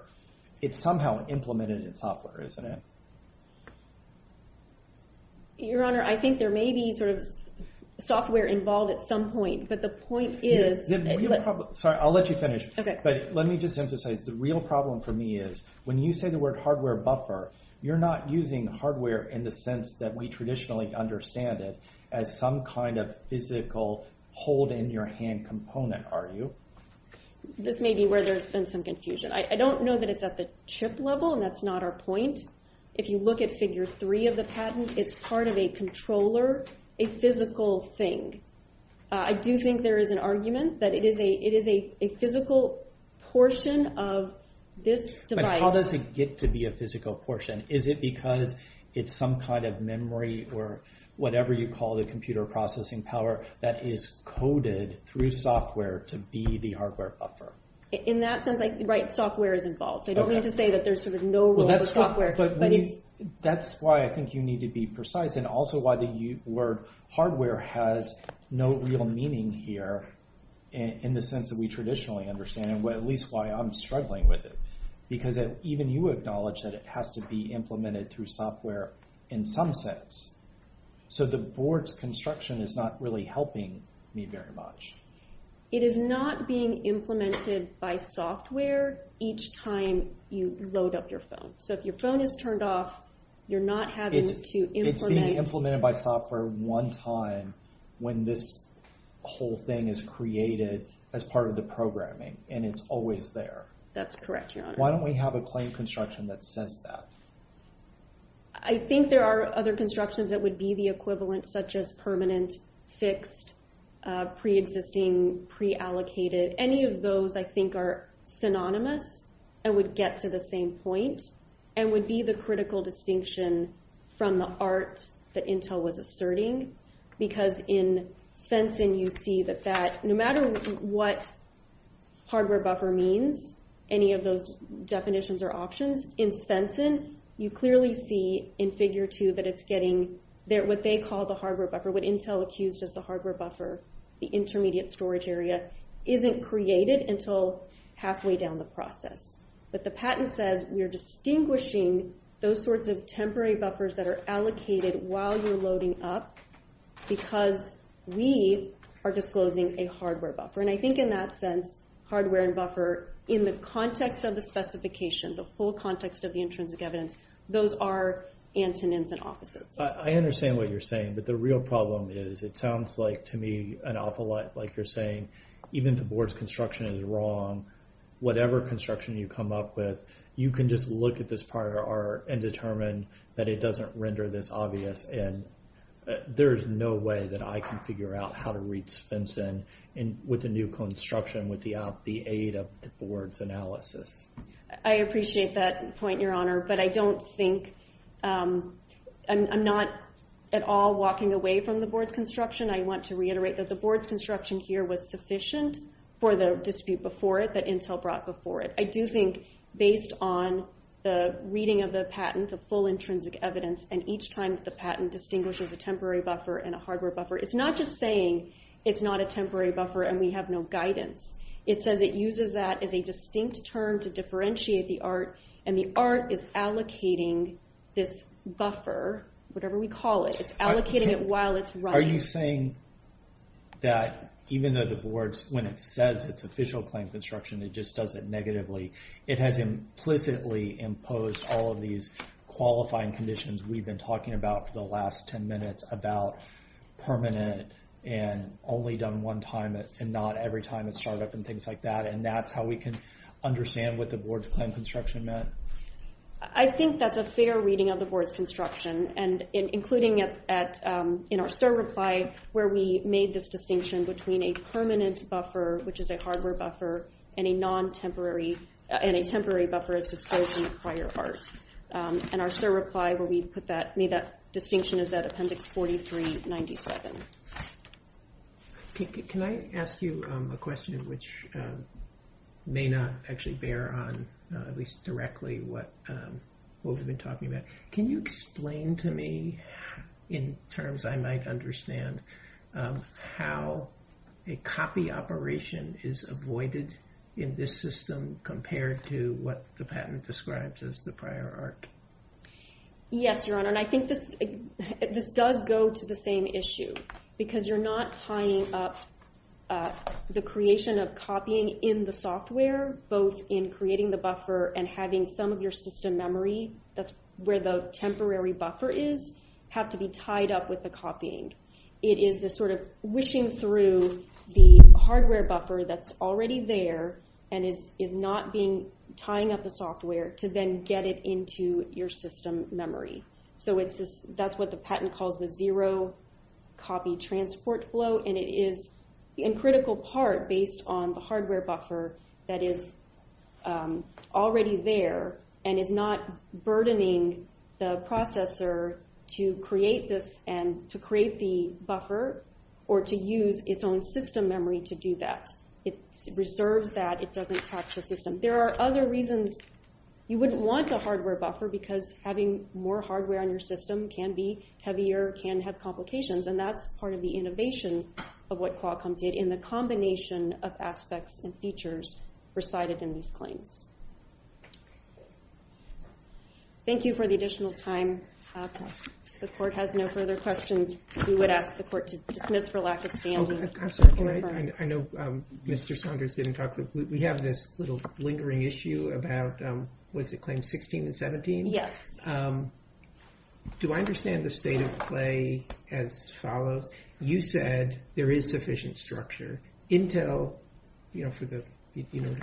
It's somehow implemented in software, isn't it? Your Honor, I think there may be sort of software involved at some point, but the point is... Sorry, I'll let you finish. But let me just emphasize, the real problem for me is when you say the word hardware buffer, you're not using hardware in the sense that we traditionally understand it as some kind of physical hold-in-your-hand component, are you? This may be where there's been some confusion. I don't know that it's at the chip level, and that's not our point. If you look at Figure 3 of the patent, it's part of a controller, a physical thing. I do think there is an argument that it is a physical portion of this device. But how does it get to be a physical portion? Is it because it's some kind of memory or whatever you call the computer processing power that is coded through software to be the hardware buffer? In that sense, right, software is involved. I don't mean to say that there's no software. That's why I think you need to be precise and also why the word hardware has no real meaning here in the sense that we traditionally understand it, at least why I'm struggling with it. Because even you acknowledge that it has to be implemented through software in some sense. So the board's construction is not really helping me very much. It is not being implemented by software each time you load up your phone. So if your phone is turned off, you're not having to implement... It's being implemented by software one time when this whole thing is created as part of the programming, and it's always there. That's correct, Your Honor. Why don't we have a claim construction that says that? I think there are other constructions that would be the equivalent, such as permanent, fixed, preexisting, preallocated. Any of those I think are synonymous and would get to the same point and would be the critical distinction from the art that Intel was asserting. Because in Fenton, you see that no matter what hardware buffer means, any of those definitions or options, in Fenton, you clearly see in Figure 2 that it's getting what they call the hardware buffer. What Intel accused of the hardware buffer, the intermediate storage area, isn't created until halfway down the process. But the patent says we're distinguishing those sorts of temporary buffers that are allocated while you're loading up because we are disclosing a hardware buffer. And I think in that sense, hardware and buffer, in the context of the specification, the full context of the insurance given, those are antonyms and offices. I understand what you're saying, but the real problem is it sounds like to me an awful lot like you're saying, even if the board's construction is wrong, whatever construction you come up with, you can just look at this part of the art and determine that it doesn't render this obvious. And there's no way that I can figure out how to read Fenton with the new construction with the aid of the board's analysis. I appreciate that point, Your Honor, but I don't think... I'm not at all walking away from the board's construction. I want to reiterate that the board's construction here was sufficient for the dispute before it that Intel brought before it. I do think, based on the reading of the patent, the full intrinsic evidence, and each time the patent distinguishes a temporary buffer and a hardware buffer, it's not just saying it's not a temporary buffer and we have no guidance. It says it uses that as a distinct term to differentiate the art, and the art is allocating this buffer, whatever we call it, allocating it while it's running. Are you saying that even though the board, when it says it's official claims construction, it just does it negatively, it has implicitly imposed all of these qualifying conditions we've been talking about for the last ten minutes about permanent and only done one time and not every time it's shut up and things like that, and that's how we can understand what the board's claims construction meant? I think that's a fair reading of the board's construction, including in our STIR reply where we made this distinction between a permanent buffer, which is a hardware buffer, and a temporary buffer that's exposed in the acquired art. In our STIR reply where we made that distinction is that Appendix 4397. Can I ask you a question which may not actually bear on, at least directly, what we've been talking about? Can you explain to me, in terms I might understand, how a copy operation is avoided in this system compared to what the patent describes as the prior art? Yes, Your Honor. I think this does go to the same issue because you're not tying up the creation of copying in the software, both in creating the buffer and having some of your system memory that's where the temporary buffer is have to be tied up with the copying. It is the sort of wishing through the hardware buffer that's already there and is not tying up the software to then get it into your system memory. So that's what the patent calls the zero copy transport flow, and it is, in critical part, based on the hardware buffer that is already there and is not burdening the processor to create the buffer or to use its own system memory to do that. It reserves that. It doesn't tax the system. There are other reasons you wouldn't want the hardware buffer because having more hardware on your system can be heavier, can have complications, of what Qualcomm did in the combination of aspects and features presided in this claim. Thank you for the additional time. If the court has no further questions, we would ask the court to dismiss for lack of standing. I know Mr. Saunders didn't talk, but we have this little lingering issue about, was it Claim 16 and 17? Yes. Do I understand the state of play as follows? You said there is sufficient structure. Intel, you know,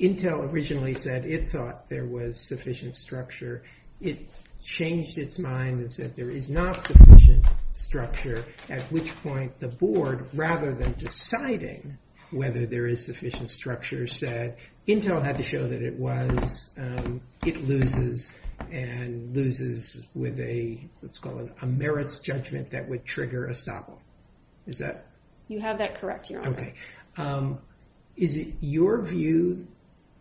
Intel originally said it thought there was sufficient structure. It changed its mind and said there is not sufficient structure, at which point the board, rather than deciding whether there is sufficient structure, said Intel had to show that it was. It loses and loses with a, let's call it a merits judgment that would trigger a stop. Is that? You have that correct, Your Honor. Okay. Is it your view?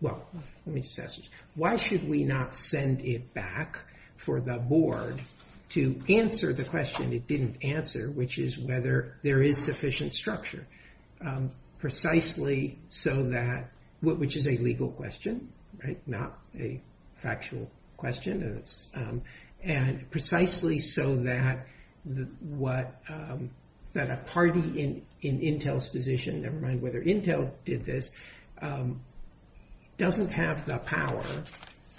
Well, let me discuss this. Why should we not send it back for the board to answer the question it didn't answer, which is whether there is sufficient structure, precisely so that, which is a legal question, not a factual question, and precisely so that a party in Intel's position, never mind whether Intel did this, doesn't have the power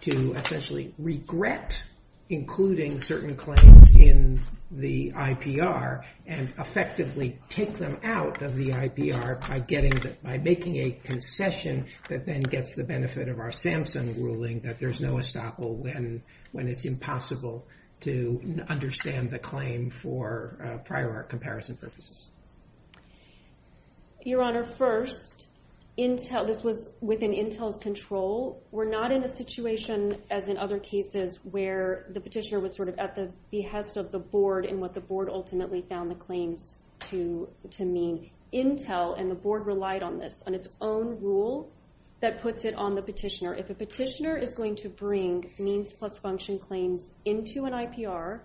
to essentially regret including certain claims in the IPR and effectively take them out of the IPR by making a concession that then gets the benefit of our Samson ruling that there's no estoppel when it's impossible to understand the claim for prior comparison purposes. Your Honor, first, Intel, this was within Intel's control. We're not in a situation, as in other cases, where the petitioner was sort of at the behest of the board and what the board ultimately found the claim to mean. Intel and the board relied on this, on its own rule that puts it on the petitioner. If a petitioner is going to bring means plus function claims into an IPR,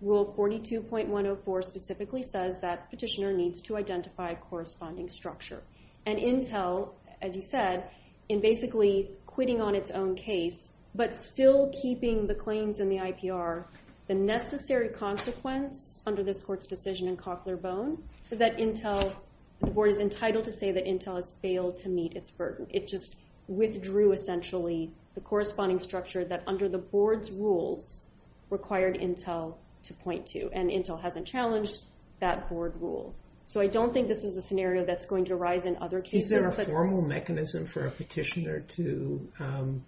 Rule 42.104 specifically says that petitioner needs to identify a corresponding structure. And Intel, as you said, in basically quitting on its own case, but still keeping the claims in the IPR, the necessary consequence under this court's decision in Cochlear Bone is that Intel, the board is entitled to say that Intel has failed to meet its burden. It just withdrew essentially the corresponding structure that under the board's rule required Intel to point to. And Intel hasn't challenged that board rule. So I don't think this is a scenario that's going to arise in other cases. Is there a formal mechanism for a petitioner to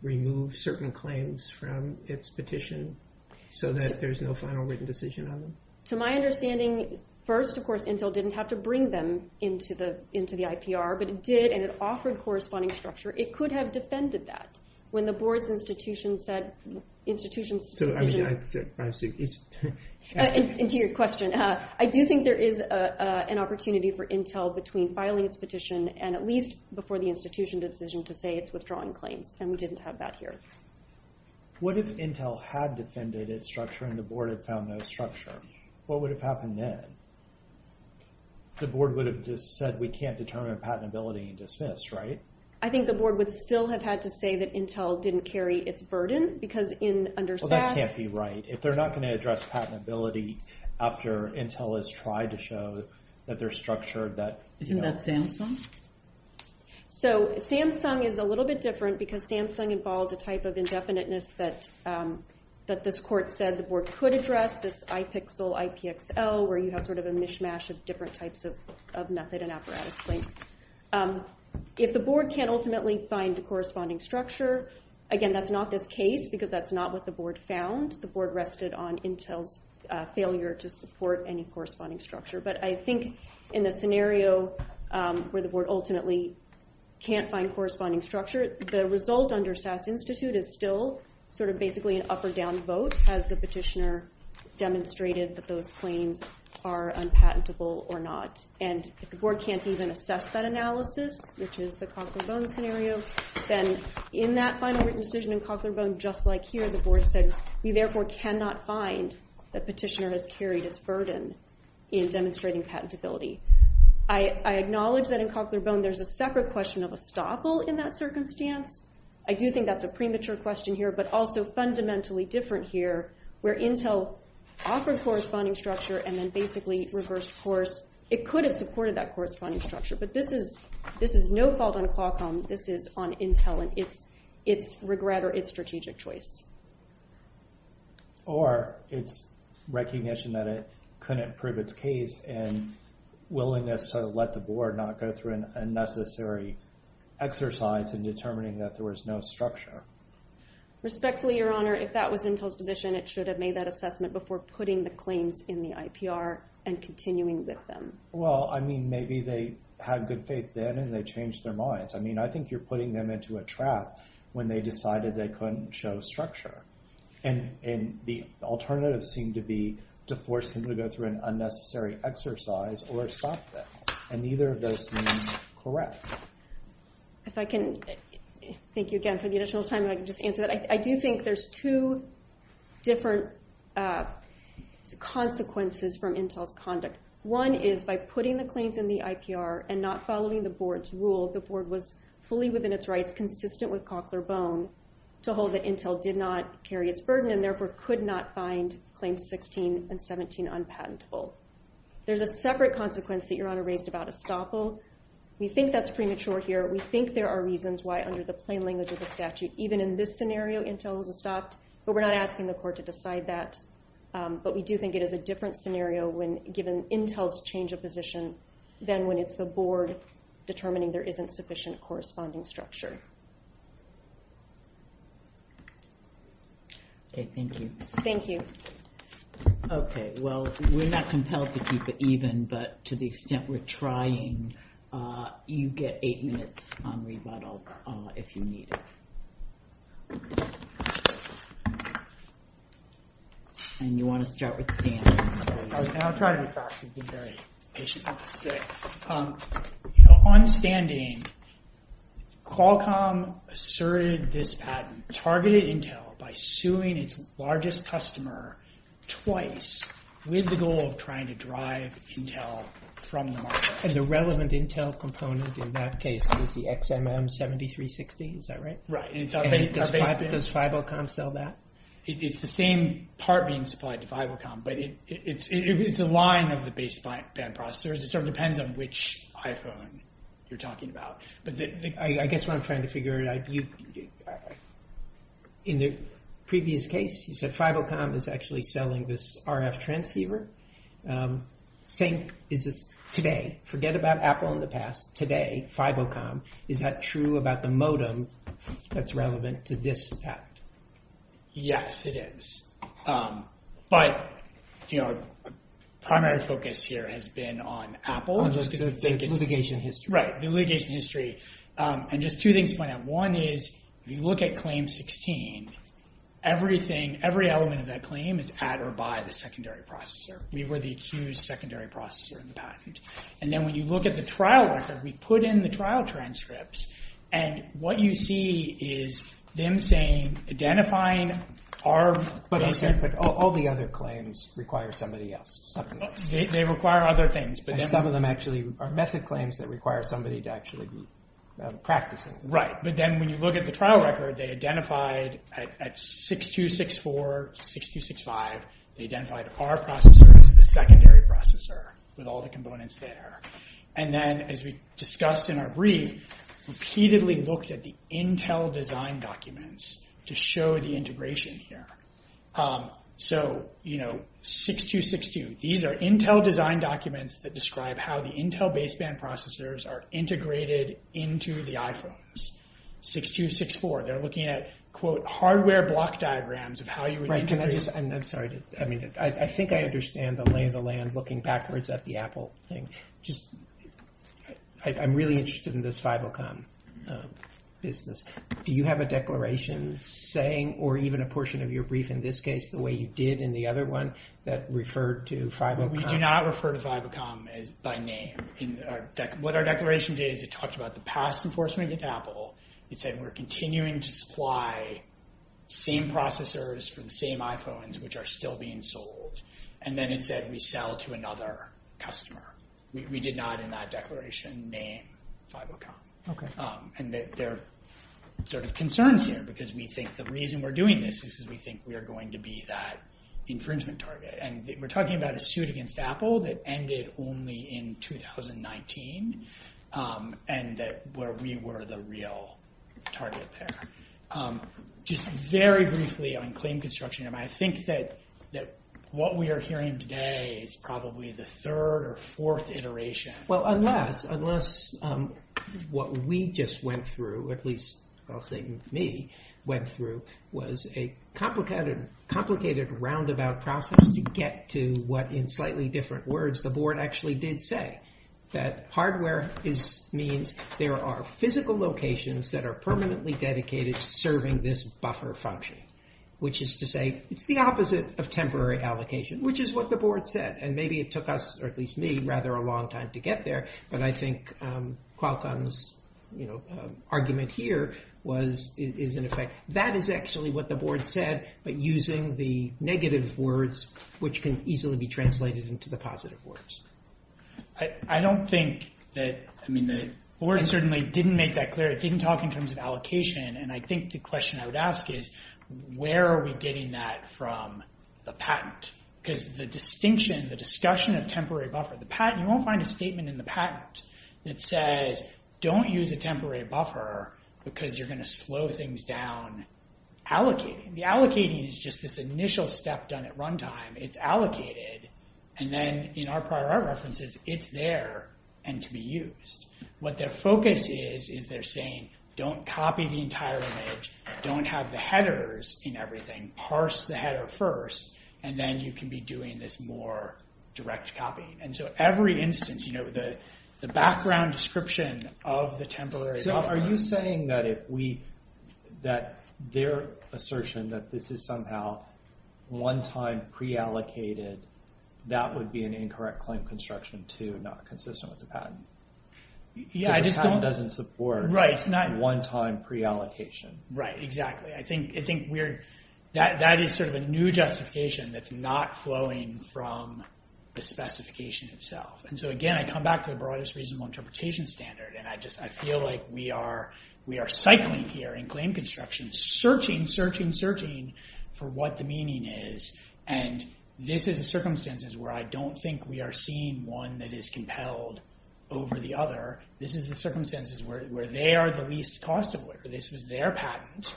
remove certain claims from its petition so that there's no final written decision on them? To my understanding, first, of course, Intel didn't have to bring them into the IPR, but it did and it offered corresponding structure. It could have defended that when the board's institution said, institutions... It's your question. I do think there is an opportunity for Intel between filing a petition and at least before the institution decision to say it's withdrawing claims, and we didn't have that here. What if Intel had defended its structure and the board had found no structure? What would have happened then? The board would have just said, we can't determine patentability and dismissed, right? I think the board would still have had to say that Intel didn't carry its burden because in understaffed... That can't be right. If they're not going to address patentability after Intel has tried to show that they're structured, that... Isn't that Samsung? So, Samsung is a little bit different because Samsung involved a type of indefiniteness that this court said the board could address, this IPXL, IPXL, where you have sort of a mishmash of different types of method and apparatus, right? If the board can't ultimately find the corresponding structure, again, that's not the case because that's not what the board found. The board rested on Intel's failure to support any corresponding structure. But I think in the scenario where the board ultimately can't find corresponding structure, the result under SAS Institute is still sort of basically an up or down vote as the petitioner demonstrated that those claims are unpatentable or not. And if the board can't even assess that analysis, which is the Copperbone scenario, then in that final written decision in Copperbone, just like here, the board said, we therefore cannot find that petitioner has carried a burden in demonstrating patentability. I acknowledge that in Copperbone there's a separate question of estoppel in that circumstance. I do think that's a premature question here, but also fundamentally different here where Intel offered corresponding structure and then basically reversed course. It could have supported that corresponding structure, but this is no fault on Qualcomm. This is on Intel and its regret or its strategic choice. Or its recognition that it couldn't prove its case and willingness to let the board not go through an unnecessary exercise in determining that there was no structure. Respectfully, Your Honor, if that was Intel's position, it should have made that assessment before putting the claims in the IPR and continuing with them. Well, I mean, maybe they had good faith then and they changed their minds. I mean, I think you're putting them into a trap when they decided they couldn't show structure. And the alternatives seem to be to force them to go through an unnecessary exercise or stop them. And neither of those seem correct. If I can thank you again for the additional time and I can just answer that. I do think there's two different consequences from Intel's conduct. One is by putting the claims in the IPR and not following the board's rules. The board was fully within its rights, consistent with Coughler-Bone, to hold that Intel did not carry its burden and therefore could not find Claims 16 and 17 unpatentable. There's a separate consequence that Your Honor raised about estoppels. We think that's premature here. We think there are reasons why under the plain language of the statute, even in this scenario, Intel would have stopped. But we're not asking the court to decide that. But we do think it is a different scenario when given Intel's change of position than when it's the board determining there isn't sufficient corresponding structure. Okay, thank you. Thank you. Okay, well, we're not compelled to keep it even, but to the extent we're trying, you get eight minutes on rebuttal if you need it. And you want to start with Dan. I'm sorry to interrupt. You've been very patient. On standing, Qualcomm asserted this patent targeted Intel by suing its largest customer twice with the goal of trying to drive Intel from the market. And the relevant Intel component in that case was the XMM7360, is that right? Right. Does FIBOCOM sell that? It's the same part being supplied to FIBOCOM, but it's a line of the baseband processors. It sort of depends on which iPhone you're talking about. I guess what I'm trying to figure out, in the previous case, you said FIBOCOM is actually selling this RF transceiver. Today, forget about Apple in the past, today, FIBOCOM, is that true about the modem that's relevant to this patent? Yes, it is. But our primary focus here has been on Apple. The litigation history. Right, the litigation history. And just two things to point out. One is, if you look at Claim 16, every element of that claim is at or by the secondary processor. We were the accused secondary processor in the patent. And then when you look at the trial record, we put in the trial transcripts, and what you see is them saying, identifying our... But all the other claims require somebody else. They require other things. Some of them actually are method claims that require somebody to actually practice it. Right, but then when you look at the trial record, they identified at 6264, 6265, they identified our processor as the secondary processor, with all the components there. And then, as we discussed in our brief, repeatedly looked at the Intel design documents to show the integration here. So, you know, 6262. These are Intel design documents that describe how the Intel baseband processors are integrated into the iPhones. 6264, they're looking at, quote, hardware block diagrams of how you would... Right, can I just... I'm sorry. I think I understand the lay of the land looking backwards at the Apple thing. I'm really interested in this FiberCon business. Do you have a declaration saying, or even a portion of your brief in this case, the way you did in the other one, that referred to FiberCon? We do not refer to FiberCon by name. What our declaration did, it talked about the past enforcement of Apple. It said we're continuing to supply same processors for the same iPhones, which are still being sold. And then it said we sell to another customer. We did not, in that declaration, name FiberCon. And that there are concerns here because we think the reason we're doing this is because we think we are going to be that infringement target. And we're talking about a suit against Apple that ended only in 2019 and where we were the real target there. Just very briefly on claim construction, I think that what we are hearing today is probably the third or fourth iteration. Well, unless what we just went through, at least I'll say me, went through was a complicated roundabout process to get to what, in slightly different words, the board actually did say, that hardware means there are physical locations that are permanently dedicated to serving this buffer function, which is to say the opposite of temporary allocation, which is what the board said. And maybe it took us, or at least me, rather a long time to get there. But I think Qualcomm's argument here is in effect, that is actually what the board said, but using the negative words, which can easily be translated into the positive words. I don't think that, I mean, the board certainly didn't make that clear. It didn't talk in terms of allocation. And I think the question I would ask is, where are we getting that from the patent? Because the distinction, the discussion of temporary buffer, you won't find a statement in the patent that says don't use a temporary buffer because you're gonna slow things down allocating. The allocating is just this initial step done at runtime. It's allocated. And then in our prior art references, it's there and to be used. What their focus is, is they're saying, don't copy the entire image, don't have the headers in everything, parse the header first, and then you can be doing this more direct copying. And so every instance, the background description of the temporary buffer. So are you saying that if we, that their assertion that this is somehow one time pre-allocated, that would be an incorrect claim construction too, not consistent with the patent? Yeah, I just don't. The patent doesn't support one time pre-allocation. Right, exactly. I think we're, that is sort of a new justification that's not flowing from the specification itself. And so again, I come back to the broadest reasonable interpretation standard and I feel like we are cycling here in claim construction, searching, searching, searching for what the meaning is and this is the circumstances where I don't think we are seeing one that is compelled over the other. This is the circumstances where they are the least cost of labor. This was their patent.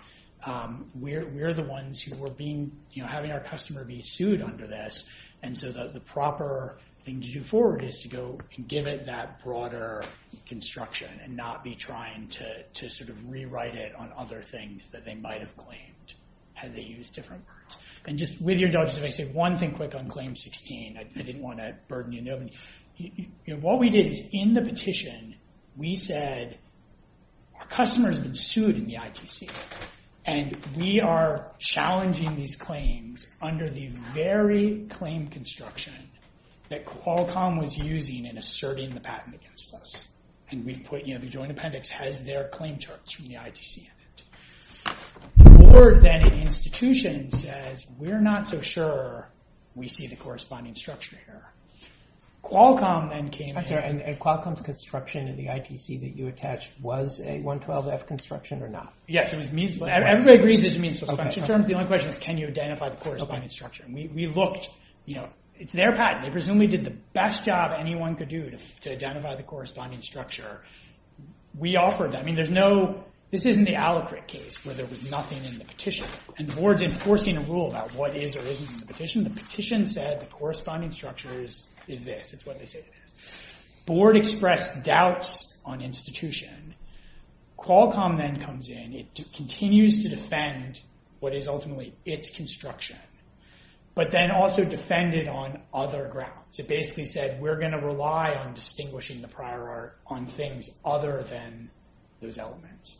We're the ones who were being, having our customer be sued under this and so the proper thing to do forward is to go and give it that broader construction and not be trying to sort of rewrite it on other things that they might have claimed had they used different words. And just with your doubts, if I said one thing quick on claim 16, I didn't want to burden you. What we did in the petition, we said our customers have been sued in the ITC and we are challenging these claims under the very claim construction that Qualcomm was using in asserting the patent against us and we put, you know, the Joint Appendix has their claim charts from the ITC in it. The board then at the institution says, we're not so sure we see the corresponding structure here. Qualcomm then came. And Qualcomm's construction in the ITC that you attached was a 112F construction or not? Yes. Everybody agrees it was a construction. The only question is, can you identify the corresponding structure? And we looked, you know, it's their patent. They presumably did the best job anyone could do to identify the corresponding structure. We offered that. I mean, there's no, this isn't the Alacrit case where there was nothing in the petition. The board's enforcing a rule about what is or isn't in the petition. The petition said the corresponding structure is this. Board expressed doubts on institution. Qualcomm then comes in. It continues to defend what is ultimately its construction, but then also defended on other grounds. It basically said, we're going to rely on distinguishing the prior art on things other than those elements.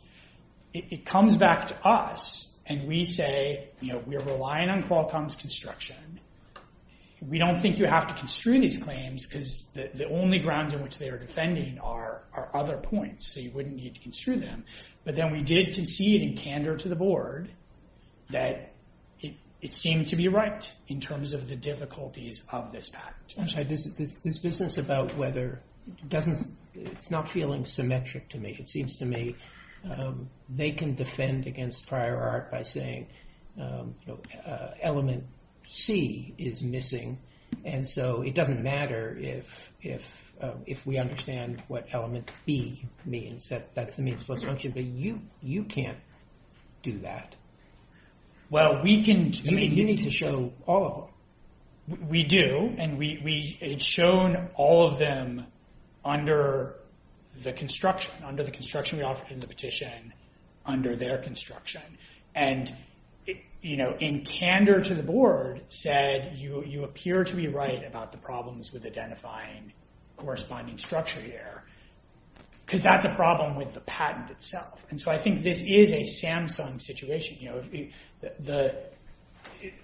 It comes back to us and we say, you know, we're relying on Qualcomm's construction. We don't think you have to construe these claims because the only grounds in which they are defending are other points. So you wouldn't need to construe them. But then we did concede and candor to the board that it seems to be right in terms of the difficulties of this patent. This business about whether it doesn't, it's not feeling symmetric to me. It seems to me they can defend against prior art by saying element C is missing. And so it doesn't matter if we understand what element C means. That's the means plus function, but you can't do that. Well, you need to show all of them. We do. And it's shown all of them under the construction we offered in the petition under their construction. And, you know, in candor to the board said, you appear to be right about the problems with identifying corresponding structure here because that's a problem with the patent itself. And so I think this is a Samsung situation, you know.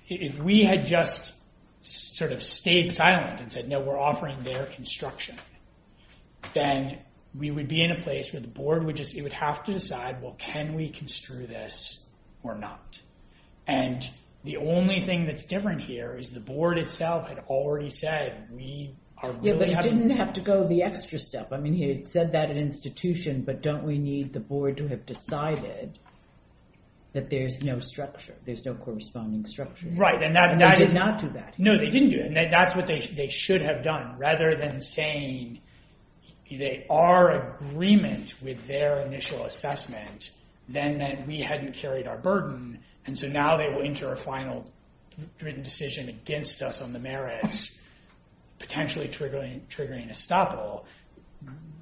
If we had just sort of stayed silent and said, no, we're offering their construction, then we would be in a place where the board would just, it would have to decide, well, can we construe this or not? And the only thing that's different here is the board itself had already said we are really having... Yeah, they didn't have to go the extra step. I mean, he had said that in institution, but don't we need the board to have decided that there's no structure, there's no corresponding structure. Right, and that... They did not do that. No, they didn't do it. And that's what they should have done rather than saying they are in agreement with their initial assessment and then that we hadn't carried our burden and so now they will enter a final written decision against us on the merits, potentially triggering a stoppable.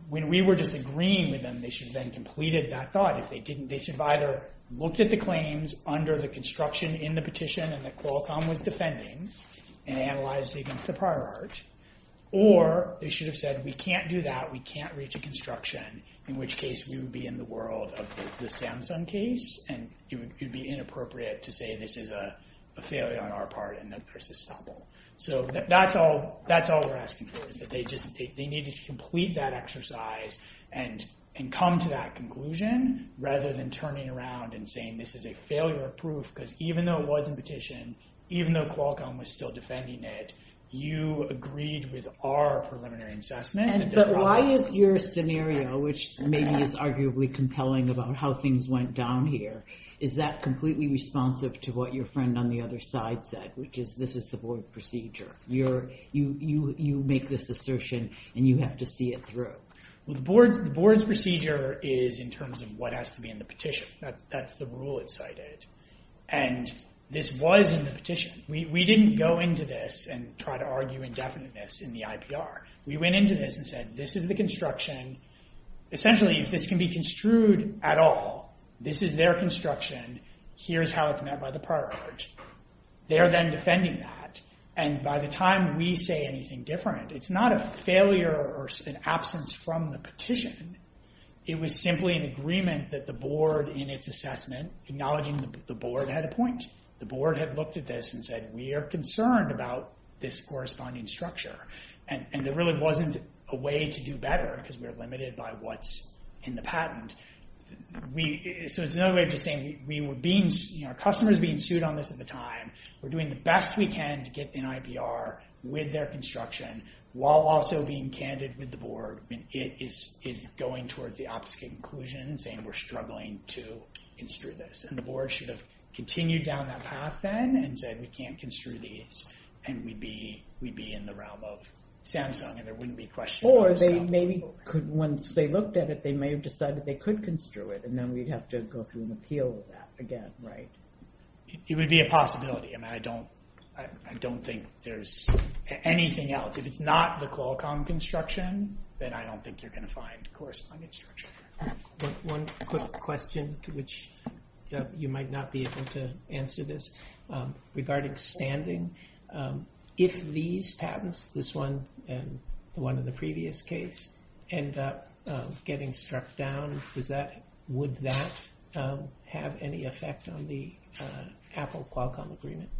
When we were just agreeing with them, they should have then completed that thought. They should have either looked at the claims under the construction in the petition and the Qualcomm was defending and analyzed against the prior art or they should have said we can't do that, we can't reach a construction, in which case we would be in the world of the Samsung case and it would be inappropriate to say this is a failure on our part and that there's a stoppable. So that's all we're asking for. They need to complete that exercise and come to that conclusion rather than turning around and saying this is a failure of proof because even though it wasn't petitioned, even though Qualcomm was still defending it, you agreed with our preliminary assessment. And so why is your scenario, which maybe is arguably compelling about how things went down here, is that completely responsive to what your friend on the other side said, which is this is the board's procedure. You make this assertion and you have to see it through. The board's procedure is in terms of what has to be in the petition. That's the rule it cited and this was in the petition. We didn't go into this and try to argue indefiniteness in the IPR. We went into this and said this is the construction. Essentially, this can be construed at all. This is their construction. Here's how it's met by the part. They're then defending that and by the time we say anything different, it's not a failure or an absence from the petition. It was simply an agreement that the board in its assessment acknowledging the board had a point. The board had looked at this and said we are concerned about this corresponding structure and there really wasn't a way to do better because we're limited by what's in the patent. There's no way of just saying our customer is being sued on this at the time. We're doing the best we can to get the IPR with their construction while also being candid with the board. It's going towards the opposite conclusion and saying we're struggling to construe this and the board should have continued down that path then and said we can't construe these and we'd be in the realm of Samsung and there wouldn't be questions. Or maybe once they looked at it, they may have decided they could construe it and then we'd have to go through an appeal with that again. It would be a possibility and I don't think there's anything else. If it's not the Qualcomm construction, then I don't think they're going to find corresponding structure. One quick question to which you might not be able to answer this. Regarding standing, if these patents, this one and one of the previous case, end up getting struck down, would that have any effect on the capital Qualcomm agreement?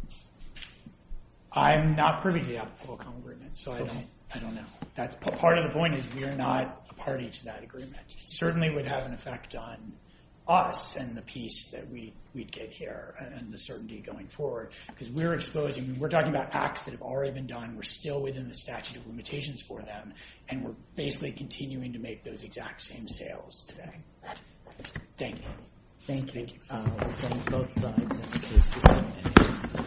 I'm not privy to the Qualcomm agreement, so I don't know. Part of the point is we're not a party to that agreement. It certainly would have an effect on us and the piece that we take care of and the certainty going forward. We're talking about acts that have already been done. We're still within the statute of limitations for them and we're basically continuing to make those exact same sales today. Thank you.